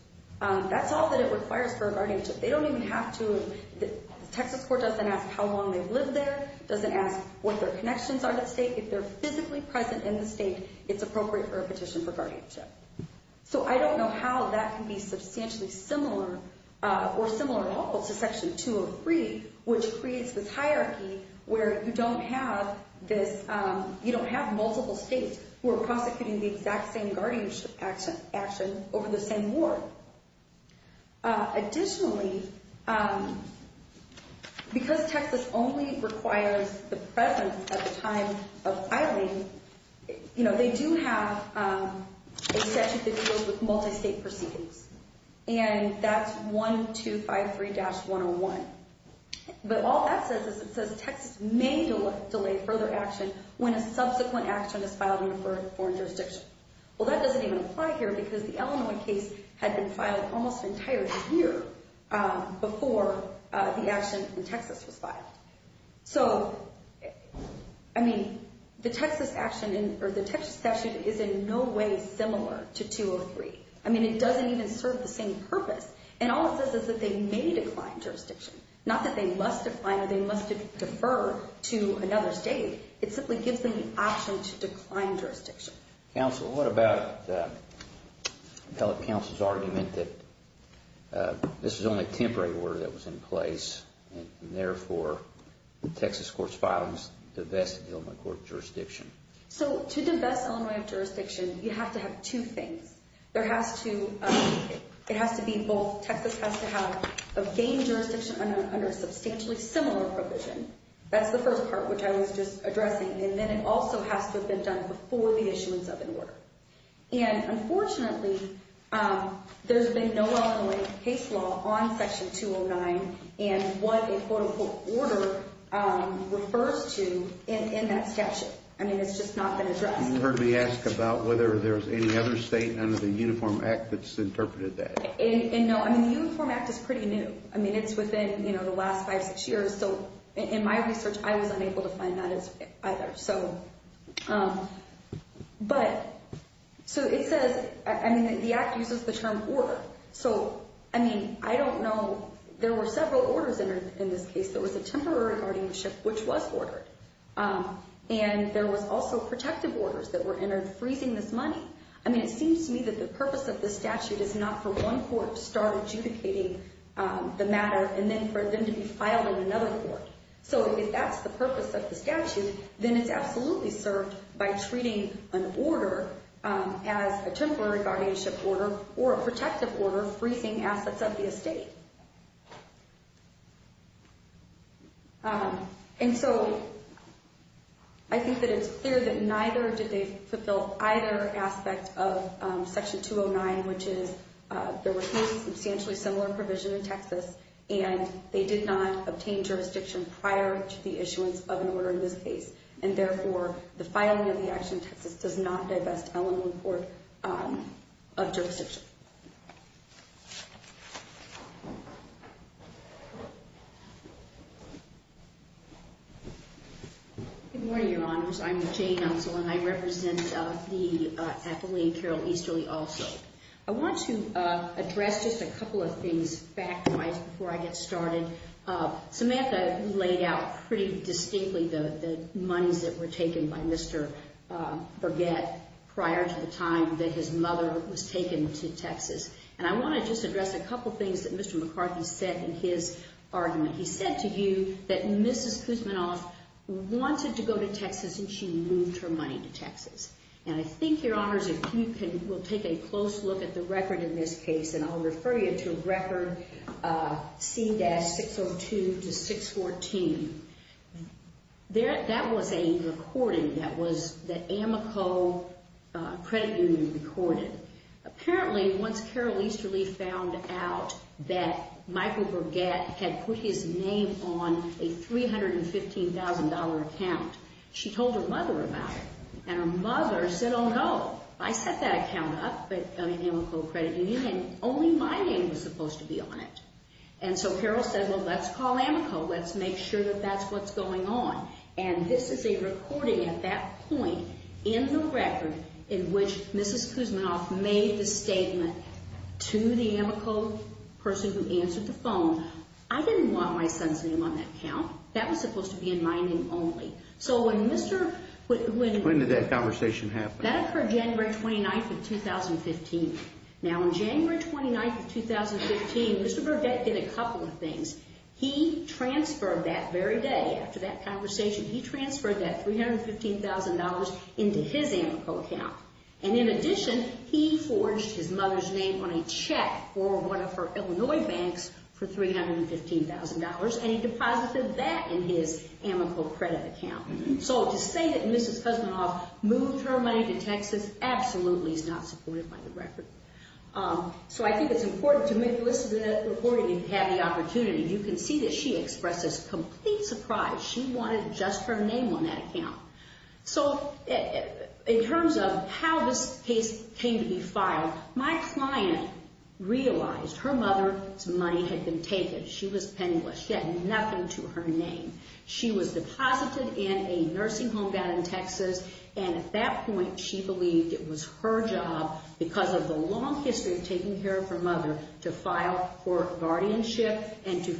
that's all that it requires for a guardianship. They don't even have to, the Texas court doesn't ask how long they've lived there. It doesn't ask what their connections are to the state. If they're physically present in the state, it's appropriate for a petition for guardianship. So, I don't know how that can be substantially similar or similar at all to Section 203, which creates this hierarchy where you don't have multiple states who are proposing the exact same guardianship action over the same ward. Additionally, because Texas only requires the presence at the time of filing, they do have a section that deals with multi-state proceedings, and that's 1253-101. But all that says is it says Texas may delay further action when a subsequent action is filed in the first foreign jurisdiction. Well, that doesn't even apply here because the Illinois case had been filed almost entirely here So, I mean, the Texas action is in no way similar to 203. I mean, it doesn't even serve the same purpose. And all it says is that they may decline jurisdiction. Not that they must decline or they must defer to another state. It simply gives them the option to decline jurisdiction. Counsel, what about the telecounsel's argument that this was only a temporary order that was in place and, therefore, Texas courts filed the best Illinois court jurisdiction? So, to the best Illinois jurisdiction, you have to have two things. There has to be both Texas has to have the same jurisdiction under substantially similar provisions. That's the first part, which I was just addressing. And then it also has to have been done before the issuance of an order. And, unfortunately, there's been no Illinois case law on Section 209 and what a quote-unquote order refers to in that statute. I mean, it's just not been addressed. You heard me ask about whether there's any other state under the Uniform Act that's interpreted that. And, no, I mean, the Uniform Act is pretty new. I mean, it's within, you know, the last five, six years. So, in my research, I was unable to find that either. So, but, so it says, I mean, the Act uses the term order. So, I mean, I don't know. There were several orders in this case. There was a temporary guardianship, which was ordered. And there were also protective orders that were in there freezing this money. I mean, it seems to me that the purpose of this statute is not for one court to start adjudicating the matter and then for them to be filed in another court. So, if that's the purpose of the statute, then it's absolutely served by treating an order as a temporary guardianship order or a protective order freezing assets of the estate. And so, I think that it's clear that neither did they fulfill either aspect of Section 209, which is there were two substantially similar provisions in Texas, and they did not obtain jurisdiction prior to the issuance of an order in this case. And, therefore, the filing of the Act in Texas does not say that it's held in the court of jurisdiction. Thank you. Good morning, Your Honors. I'm Jane Helgel, and I represent the athlete, Carol Easterly, also. I want to address just a couple of things back before I get started. Samantha laid out pretty distinctly the money that were taken by Mr. Burgett prior to the time that his mother was taken to Texas. And I want to just address a couple of things that Mr. McCarthy said in his argument. He said to you that Mrs. Kuzminoff wanted to go to Texas, and she moved her money to Texas. And I think, Your Honors, if you will take a close look at the record in this case, and I'll refer you to record C-602-614. That was a recording that was the Amoco Credit Union recording. Apparently, once Carol Easterly found out that Michael Burgett had put his name on a $315,000 account, she told her mother about it, and her mother said, Oh, no, I set that account up on the Amoco Credit Union, and only my name was supposed to be on it. And so Carol said, well, let's call Amoco. Let's make sure that that's what's going on. And this is a recording at that point in the record in which Mrs. Kuzminoff made the statement to the Amoco person who answered the phone, I didn't want my son's name on that account. That was supposed to be in my name only. When did that conversation happen? That was for January 29th of 2015. Now, on January 29th of 2015, Mr. Burgett did a couple of things. He transferred that very day after that conversation, he transferred that $315,000 into his Amoco account. And in addition, he forged his mother's name on a check for one of her Illinois banks for $315,000, and he deposited that in his Amoco credit account. So to say that Mrs. Kuzminoff moved her money to Texas absolutely is not supported by the record. So I think it's important to make a list of those recordings and have the opportunity. You can see that she expressed a complete surprise. She wanted just her name on that account. So in terms of how this case came to be filed, my client realized her mother's money had been taken. She was penniless. She had nothing to her name. She was deposited in a nursing home down in Texas, and at that point she believed it was her job, because of the long history of taking care of her mother, to file for guardianship and to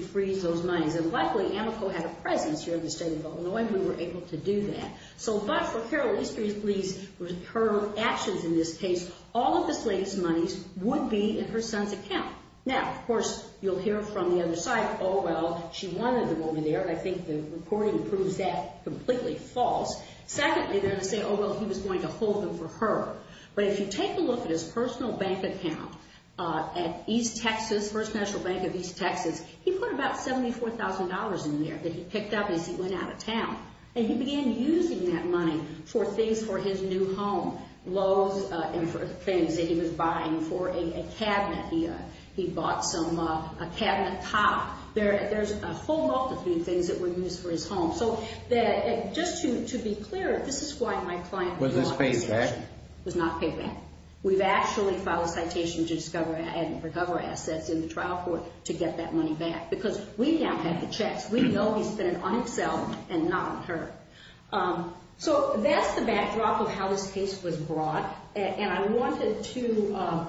freeze those monies. And luckily, Amoco had a presence here in the state of Illinois, and we were able to do that. So but for paralegal history's sake, her actions in this case, all of the slaves' monies would be in her son's account. Now, of course, you'll hear from the other side, oh, well, she wanted them over there. I think the recording proves that completely false. Secondly, they'll say, oh, well, he was going to hold them for her. But if you take a look at his personal bank account at East Texas, First National Bank of East Texas, he put about $74,000 in there that he picked up as he went out of town. And he began using that money for things for his new home, loans and for things that he was buying for a cabinet. He bought him a cabinet top. There's a whole bunch of these things that were used for his home. So just to be clear, this is why my client was not paid back. We've actually filed a citation to recover assets in the trial court to get that money back, because we have had to check. We know he spent it on himself and not on her. So that's the backdrop of how this case was brought. And I wanted to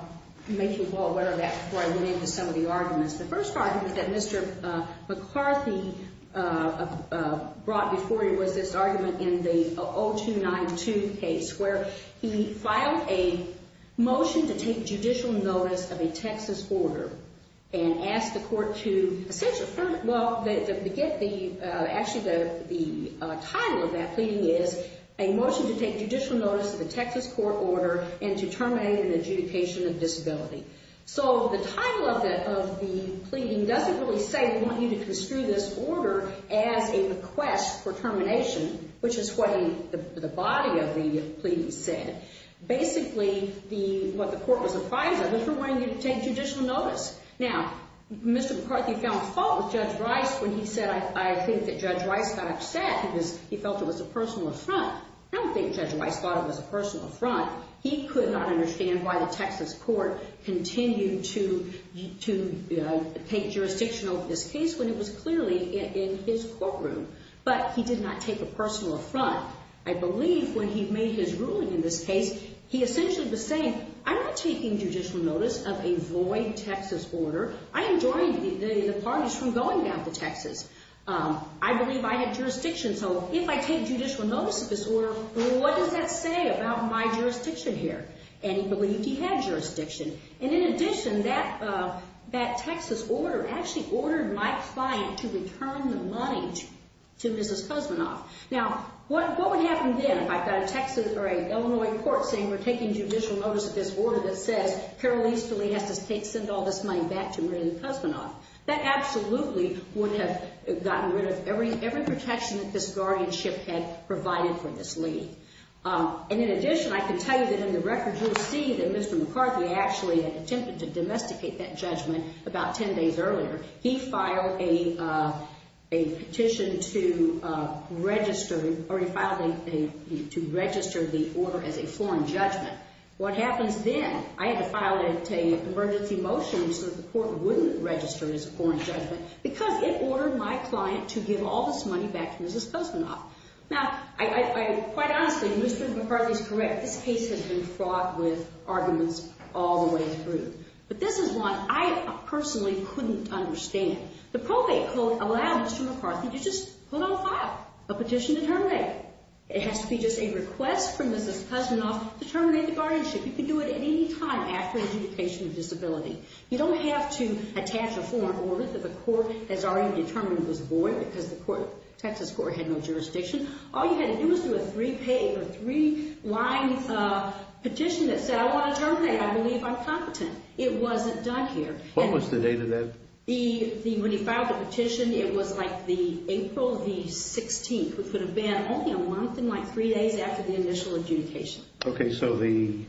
make you aware of that before I went into some of the arguments. The first argument that Mr. McCarthy brought before you was his argument in the 0292 case, where he filed a motion to take judicial notice of a Texas order and asked the court to, well, actually the title of that pleading is a motion to take judicial notice of a Texas court order and to terminate an adjudication of disability. So the title of the pleading doesn't really say we want you to construe this order as a request for termination, which is what the body of the pleading said. Basically, what the court was replying to was we're wanting you to take judicial notice. Now, Mr. McCarthy found fault with Judge Rice when he said, I think that Judge Rice got upset because he felt it was a personal affront. I don't think Judge Rice thought it was a personal affront. He could not understand why the Texas court continued to take jurisdiction over this case when it was clearly in his courtroom. But he did not take a personal affront. I believe when he made his ruling in this case, he essentially was saying, I'm not taking judicial notice of a void Texas order. I am drawing the parties from going back to Texas. I believe I have jurisdiction, so if I take judicial notice of this order, what does that say about my jurisdiction here? And he believed he had jurisdiction. And in addition, that Texas order actually ordered my client to return the money to Mrs. Kuzminoff. Now, what would happen then? I've got a Texas or an Illinois court saying we're taking judicial notice of this order that says Carol Easterly had the state send all this money back to Mrs. Kuzminoff. That absolutely would have gotten rid of every protection that this guardianship had provided for this lady. And in addition, I can tell you that in the records you'll see that Mr. McCarthy actually attempted to domesticate that judgment about ten days earlier. He filed a petition to register the order as a foreign judgment. What happened then, I had to file an emergency motion so the court wouldn't register it as a foreign judgment because it ordered my client to give all this money back to Mrs. Kuzminoff. Now, quite honestly, Mr. McCarthy is correct. The case has been fought with arguments all the way through. But this is what I personally couldn't understand. The probate court allowed Mr. McCarthy to just hold a file, a petition to terminate it. It has to be just a request from Mrs. Kuzminoff to terminate the guardianship. He could do it at any time after identification of disability. You don't have to attach a foreign order that the court has already determined was foreign because the Texas court had no jurisdiction. All you had to do was do a three-page, a three-line petition that said, I want to determine that I believe I'm competent. It wasn't done here. What was the date of that? When he filed the petition, it was like the April the 16th. It could have been only a month and like three days after the initial adjudication. Okay, so the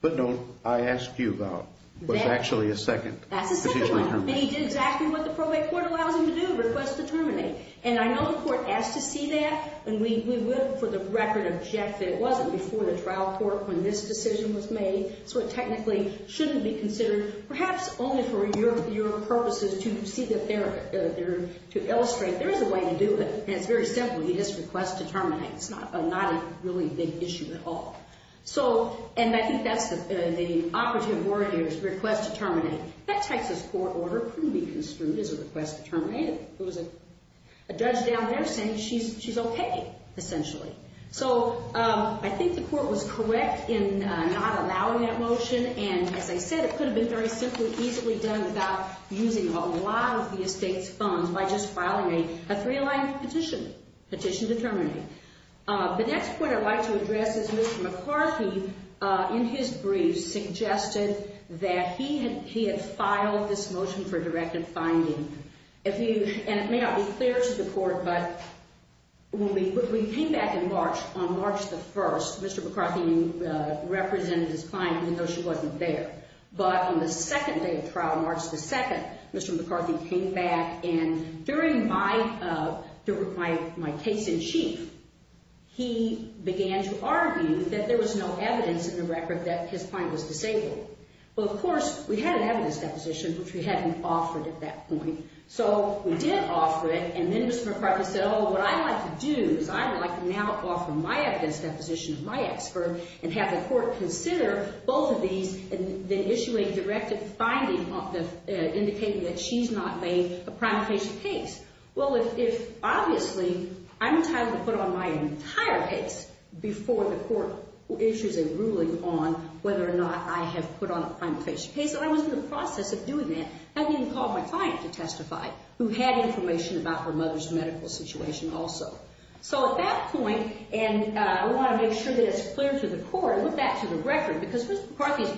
footnote I asked you about was actually a second petition. Exactly what the probate court allowed him to do, request to terminate. And I know the court has to see that, and we will for the record object that it wasn't before the trial court when this decision was made, so it technically shouldn't be considered, perhaps only for your purposes to illustrate there is a way to do this, and very simply, it's a request to terminate. It's not a really big issue at all. And I think that's the operative word there is request to terminate. That type of court order couldn't be construed as a request to terminate. It was a judge down there saying she's okay, essentially. So I think the court was correct in not allowing that motion, and as I said, it could have been very simply easily done without using a lot of these big thumbs by just filing a three-line petition, petition to terminate. The next point I'd like to address is Mr. McCarthy, in his briefs, suggested that he had filed this motion for directive finding. And it may not be clear to the court, but when we came back in March, on March the 1st, Mr. McCarthy represented his client even though she wasn't there. But on the second day of trial, March the 2nd, Mr. McCarthy came back, and during my case in chief, he began to argue that there was no evidence in the record that his client was disabled. Well, of course, we had evidence deposition, which we hadn't offered at that point. So we did offer it, and then Mr. McCarthy said, oh, what I'd like to do is I would like to now offer my evidence deposition to my expert and have the court consider both of these and then issue a directive finding indicating that she's not made a prime patient case. Well, if obviously I'm entitled to put on my entire case before the court issues a ruling on whether or not I have put on a prime patient case, I'm in the process of doing that, and we can call my client to testify who had information about her mother's medical situation also. So at that point, and I want to make sure that it's clear to the court, I put that to the record because Mr. McCarthy's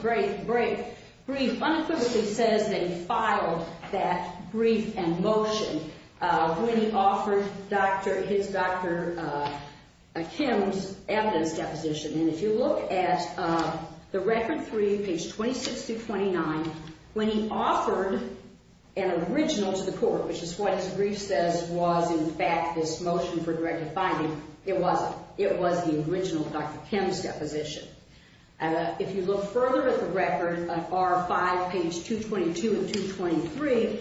brief unambiguously says that he filed that brief and motion when he offered his doctor a Tim's evidence deposition. And if you look at the record three, page 26-29, when he offered an original to the court, which is what his brief says was in fact this motion for directive finding, it was. That was the original Dr. Tim's deposition. If you look further at the record of R5, page 222 and 223,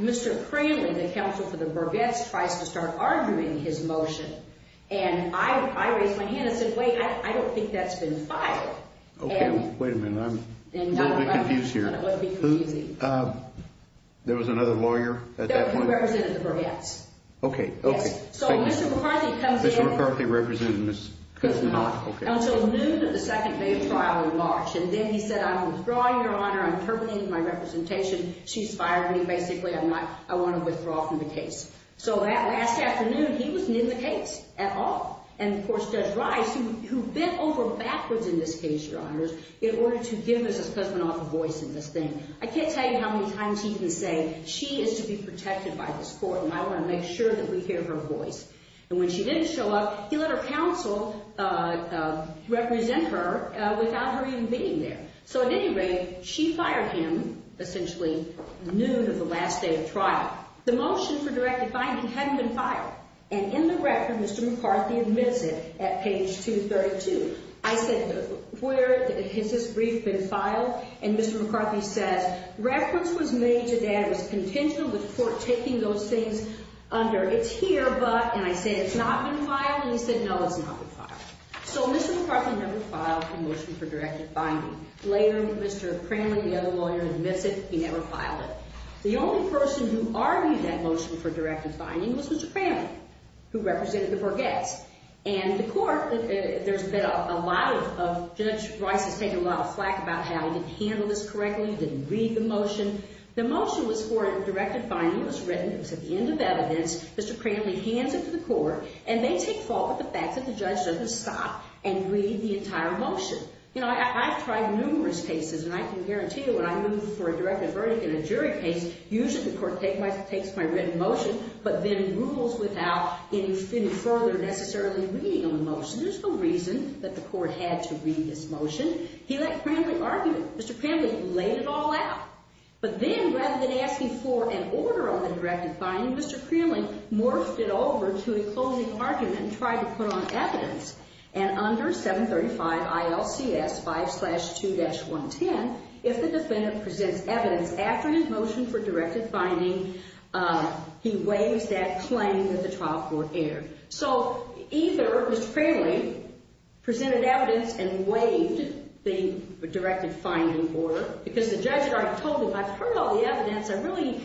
Mr. Cranley, the counsel for the Burgett's, tries to start arguing his motion, and I raised my hand and said, wait, I don't think that's been filed. Okay, wait a minute, I'm a little bit confused here. There was another lawyer at that point? That represented the Burgett's. Okay, okay. So Mr. McCarthy comes in. Mr. McCarthy represented his cousin's daughter. Okay. And so news of the second case filed in March, and then he said, I'm withdrawing, Your Honor. I'm terminating my representation. She's fired me. Basically, I want to withdraw from the case. So that afternoon, he wasn't in the case at all. And of course, Judge Rice, who bent over backwards in this case, Your Honors, in order to give his cousin off a voice in this thing. I can't tell you how many times he's been saying, she is to be protected by this court, so now we're going to make sure that we hear her voice. And when she didn't show up, he let her counsel represent her without her even being there. So at any rate, she fired him, essentially, noon of the last day of trial. The motion for direct defiance hadn't been filed. And in the record, Mr. McCarthy admits it at page 232. I said, where has this brief been filed? And Mr. McCarthy said, records was made today with the contention of this court taking those things under. It's here, but, and I said, it's not been filed. And he said, no, it's not been filed. So Mr. McCarthy never filed a motion for direct defiance. Later, Mr. Cranley, the other lawyer, admits that he never filed it. The only person who argued that motion for direct defiance was Mr. Cranley, who represented the Borghese. And the court, there's been a lot of judge rights that take a lot of flack about how he handled this correctly, didn't read the motion. The motion was for a direct defiance written to the end of evidence that Mr. Cranley handed to the court, and they take fault with the fact that the judge doesn't stop and read the entire motion. You know, I've tried numerous cases, and I can guarantee you when I'm looking for a direct defiance in a jury case, usually the court takes my written motion, but then rules without any further necessarily reading of the motion. This is the reason that the court had to read this motion. He let Cranley argue. Mr. Cranley laid it all out. But then, rather than asking for an order on a direct defiance, Mr. Cranley morphed it over to a cloning argument and tried to put on evidence. And under 735 ILCS 5-2-110, if the defendant presented evidence after his motion for direct defiance, he waived that claim that the trial court aired. So, either Mr. Cranley presented evidence and waived the direct defiance order, because the judge right told him, I've heard all the evidence, I really,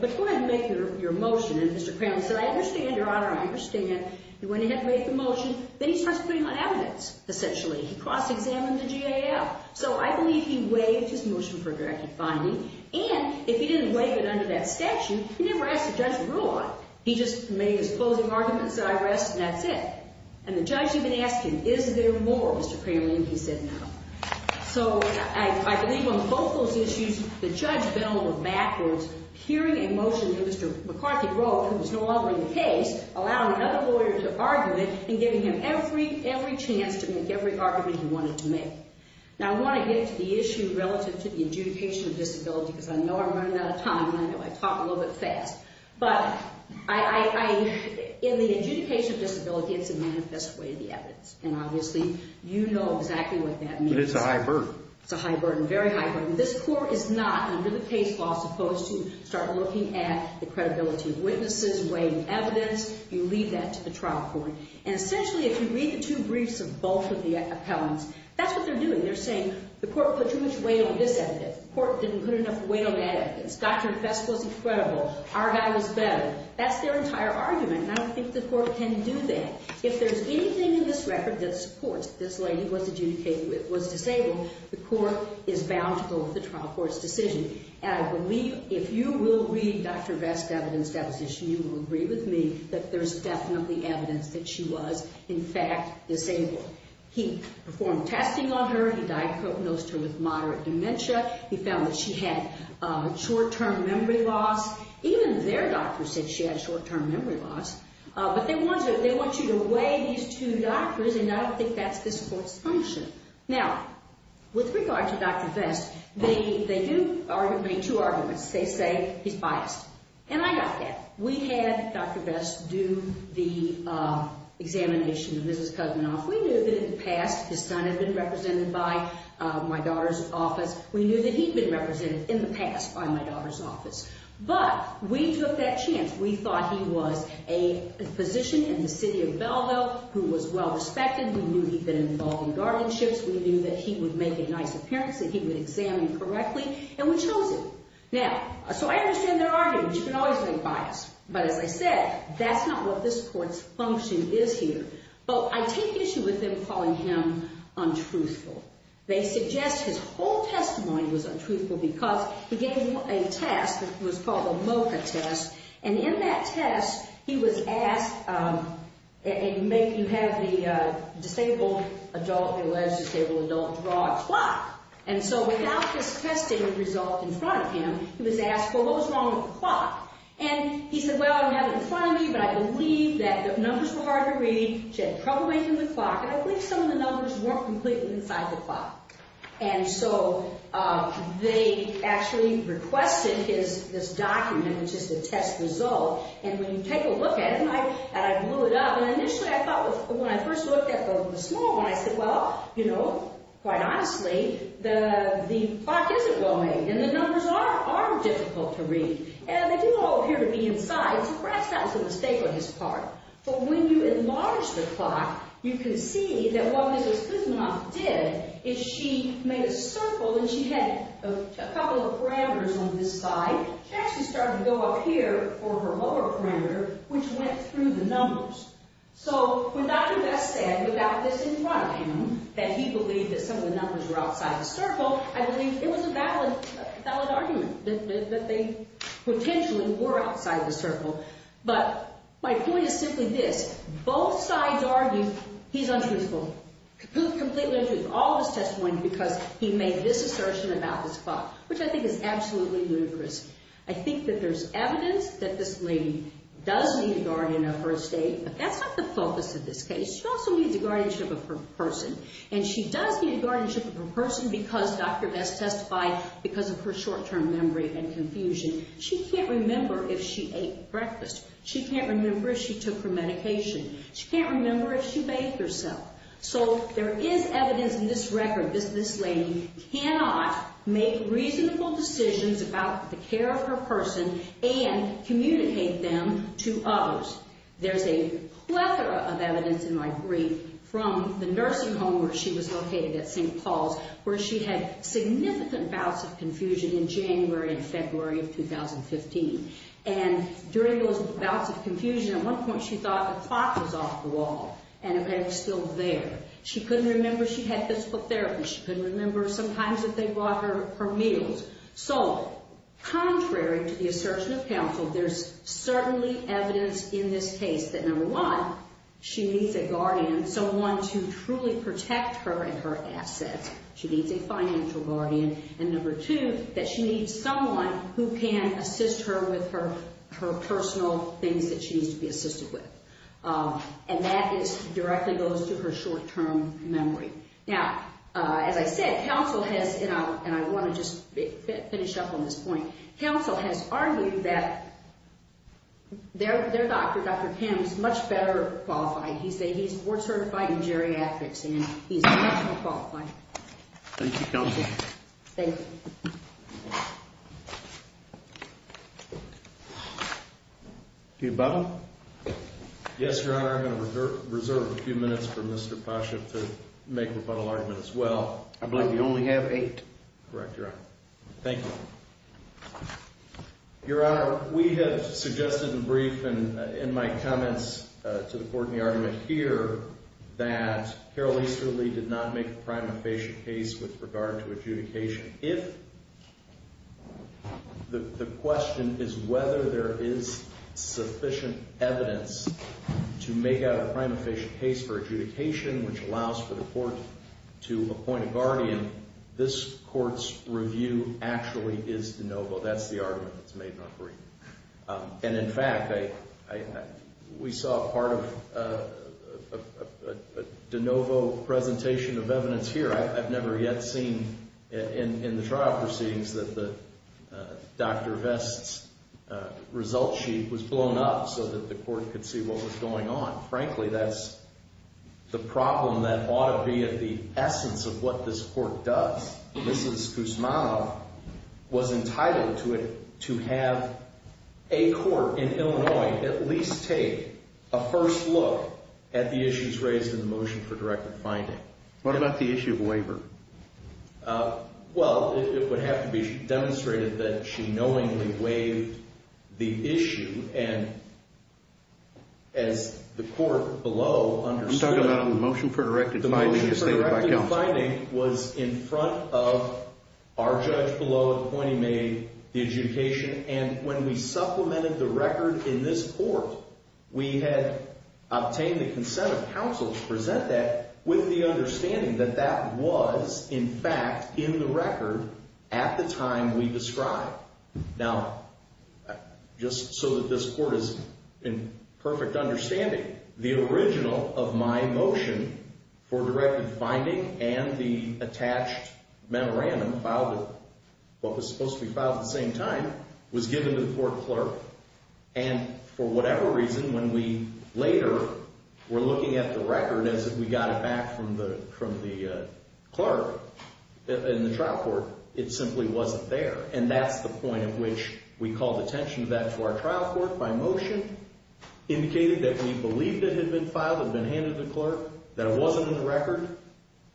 before I make your motion, and Mr. Cranley said, I understand, Your Honor, I understand, and when he had to make the motion, then he starts putting on evidence, essentially. He calls to examine the GAF. So, I believe he waived his motion for direct defiance, and if he didn't waive it under that section, he never asked the judge to rule on it. He just made his cloning argument, said, I rest, and that's it. And the judge didn't ask him, is there more, Mr. Cranley, than he said no. So, I believe on both those issues, the judge billed the backers hearing a motion Mr. McCarthy wrote, which was no longer in the case, allowing another lawyer to argue it, and giving him every chance to make every argument he wanted to make. Now, I want to get to the issue relative to the adjudication of disability, because I know I'm running out of time, and I talk a little bit fast. But, in the adjudication of disability, it's a manifest way of the evidence. And, obviously, you know exactly what that means. It's a high burden. It's a high burden, very high burden. This court is not, under the page law, supposed to start looking at the credibility of witnesses, weighing evidence. You leave that to the trial court. And, essentially, if you read the two briefs of both of the appellants, that's what they're doing. They're saying, the court put too much weight on this evidence. The court didn't put enough weight on that evidence. Dr. Cusk wasn't credible. Our guy was better. That's their entire argument, and I don't think the court can do that. If there's anything in this record that supports this lady was adjudicated with, was disabled, the court is bound to go with the trial court's decision. And, I believe, if you will read Dr. Vest's evidence, as you will agree with me, that there's definitely evidence that she was, in fact, disabled. He performed testing on her. He diagnosed her with moderate dementia. He found that she had short-term memory loss. Even their doctor said she had short-term memory loss. But they want you to weigh these two doctors and know if that's the court's function. Now, with regard to Dr. Vest, they do bring two arguments. They say he's biased. And I got that. We had Dr. Vest do the examination of Mrs. Cousenoff. We knew that in the past his son had been represented by my daughter's office. We knew that he'd been represented in the past by my daughter's office. But we took that chance. We thought he was a physician in the city of Belleville who was well-respected. We knew he'd been involved in guardianships. We knew that he would make a nice appearance, that he would examine correctly, and we chose him. Now, so I understand their argument. You can always be biased. But, as I said, that's not what this court's function is here. So, I take issue with them calling him untruthful. They suggest his whole testimony was untruthful because he gave him a test. It was called a MOCA test. And in that test, he was asked to have the disabled adult, alleged disabled adult, draw a clock. And so, without the testing result in front of him, he was asked, well, what was wrong with the clock? And he said, well, I don't have it in front of me, but I believe that the numbers were hard to read. He said, come away from the clock. I believe some of the numbers weren't completely inside the clock. And so, they actually requested this document, which is a test result. And when you take a look at it, and I blew it up, and initially I thought when I first looked at it, it was a small one, I said, well, you know, quite honestly, the clock isn't going, and the numbers are difficult to read. And if you all appear to be inside, perhaps that was a mistake on his part. But when you enlarge the clock, you can see that what Mrs. Kuzma did is she made a circle, and she had a couple of parameters on this side. She actually started to go up here for her lower parameter, which went through the numbers. So, without that said, without this in front of him, that he believed that some of the numbers were outside the circle, I believe it was a valid argument that they potentially were outside the circle. But my point is simply this. Both sides argue he's unprincipled. He's completely unprincipled. He's always testifying because he made this assertion about this clock, which I think is absolutely ludicrous. I think that there's evidence that this lady does need a guardian on her first date, but that's not the focus of this case. She also needs a guardianship of her person, and she does need a guardianship of her person because Dr. Vest testified because of her short-term memory and confusion. She can't remember if she ate breakfast. She can't remember if she took her medication. She can't remember if she bathed herself. So, there is evidence in this record that this lady cannot make reasonable decisions about the care of her person and communicate them to others. There's a plethora of evidence, and I agree, from the nursing home where she was located at St. Paul, where she had significant bouts of confusion in January and February of 2015. And during those bouts of confusion, at one point she thought the clock was off the wall and it was still there. She couldn't remember she had physical therapy. She couldn't remember sometimes that they blocked her meals. So, contrary to the assertion of counsel, there's certainly evidence in this case that, number one, she needs a guardian, someone to truly protect her and her assets. She needs a financial guardian. And number two, that she needs someone who can assist her with her personal things that she needs to be assisted with. And that directly goes to her short-term memory. Now, as I said, counsel has, and I want to just finish up on this point, counsel has argued that their doctor, Dr. Kim, is much better qualified. He's a board-certified geriatric, and he's a national qualified. Thank you, counsel. Thank you. The above? Yes, Your Honor, I'm going to reserve a few minutes for Mr. Pasha to make his final argument as well. I believe we only have eight. Correct, Your Honor. Thank you. Your Honor, we have suggested in brief and in my comments to the court in the argument here that Carol Easterly did not make a prime inpatient case with regard to adjudication. If the question is whether there is sufficient evidence to make out a prime inpatient case for adjudication, which allows for the court to appoint a guardian, this court's review actually is de novo. That's the argument that's made in our brief. And in fact, we saw part of a de novo presentation of evidence here. I've never yet seen in the trial proceedings that Dr. Vest's results sheet was blown up so that the court could see what was going on. Frankly, that's the problem that ought to be at the essence of what this court does, since Guzman was entitled to it, to have a court in Illinois at least take a first look at the issues raised in the motion for directed finding. What about the issue of waiver? Well, it would have to be demonstrated that she knowingly waived the issue. And the court below understood that the motion for directed finding was in front of our judge below appointing me the adjudication. And when we supplemented the record in this court, we had obtained the consent of counsel to present that with the understanding that that was, in fact, in the record at the time we described. Now, just so that this court is in perfect understanding, the original of my motion for directed finding and the attached memorandum filed at what was supposed to be filed at the same time was given to the court clerk. And for whatever reason, when we later were looking at the record as if we got it back from the clerk in the trial court, it simply wasn't there. And that's the point at which we called attention to that to our trial court by motion, indicated that we believed it had been filed, had been handed to the clerk, that it wasn't in the record.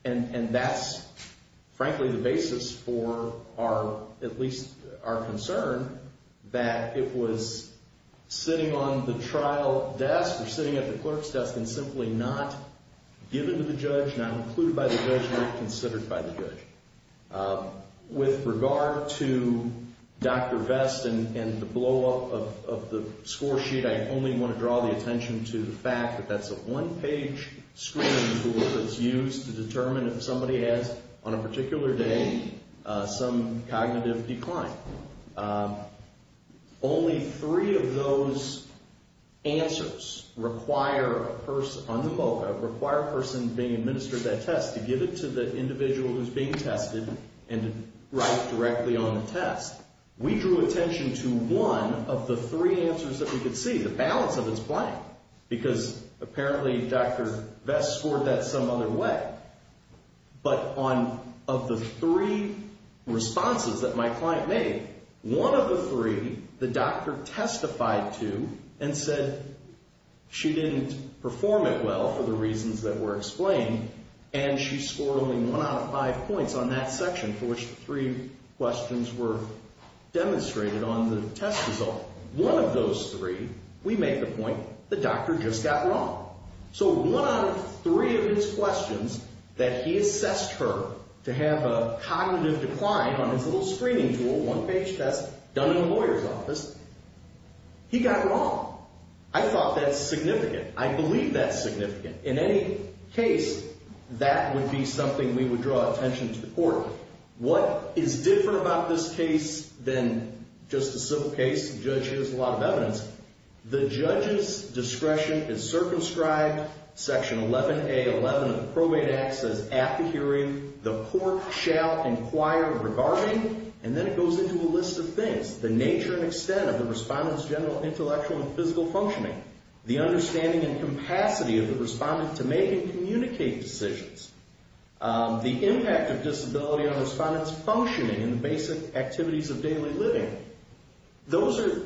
And that's, frankly, the basis for at least our concern that it was sitting on the trial desk or sitting at the clerk's desk and simply not given to the judge, not included by the judge, not considered by the judge. With regard to Dr. Vest and the blowup of the score sheet, I only want to draw the attention to the fact that that's a one-page screening tool that's used to determine if somebody has, on a particular day, some cognitive decline. Only three of those answers require a person being administered that test to give it to the individual who's being tested and to write directly on the test. We drew attention to one of the three answers that we could see. The balance of this blank, because apparently Dr. Vest scored that some other way. But of the three responses that my client made, one of the three the doctor testified to and said she didn't perform it well for the reasons that were explained, and she scored only one out of five points on that section for which three questions were demonstrated on the test result. One of those three, we make the point, the doctor just got wrong. So one out of three of his questions that he assessed her to have a cognitive decline on a full screening tool, one-page test, done in the lawyer's office, he got wrong. I thought that's significant. I believe that's significant. In any case, that would be something we would draw attention to. What is different about this case than just a simple case? The judge gives a lot of evidence. The judge's discretion is circumscribed. Section 11A11 of the Probate Act says, after hearing, the court shall inquire regarding, and then it goes into a list of things, the nature and extent of the respondent's general intellectual and physical functioning, the understanding and capacity of the respondent to make and communicate decisions. The impact of disability on respondent's functioning and basic activities of daily living. Those are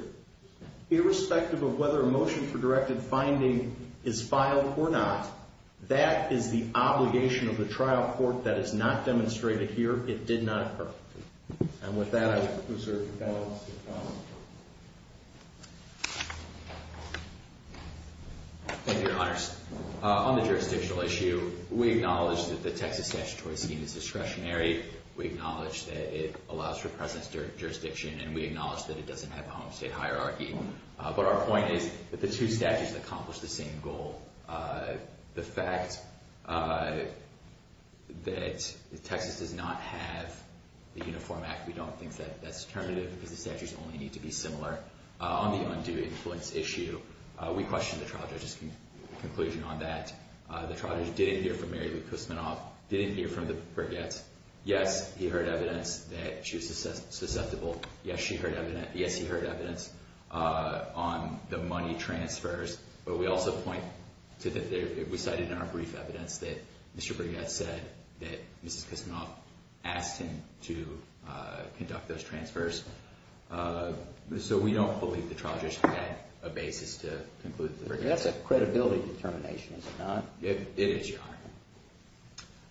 irrespective of whether a motion for directed finding is filed or not. That is the obligation of the trial court that is not demonstrated here. It did not occur. And with that, I reserve the balance of time. Thank you, Your Honors. On the jurisdictional issue, we acknowledge that the Texas statute is discretionary. We acknowledge that it allows for presence during jurisdiction, and we acknowledge that it doesn't have a homestead hierarchy. But our point is that the two statutes accomplish the same goal. The fact that Texas does not have the Uniform Act, we don't think that that's terminative because the statutes only need to be similar. On the undue influence issue, we question the trial judge's conclusion on that. The trial judge didn't hear from Mary Ruth Kusmanoff, didn't hear from Brigette. Yes, he heard evidence that she was susceptible. Yes, she heard evidence. Yes, he heard evidence on the money transfers. But we also point to that we cited in our brief evidence that Mr. Brigette said that Mrs. Kusmanoff asked him to conduct those transfers. So we don't believe the trial judge had a basis to conclude that. That's a credibility determination, is it not? It is, Your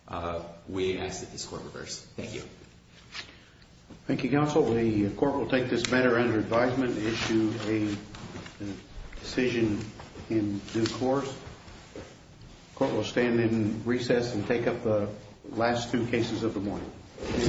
Honor. We ask that this court reverse. Thank you. Thank you, Counsel. The court will take this matter under advisement and issue a decision in due course. The court will stand in recess and take up the last two cases of the morning. Thank you. Court adjourned.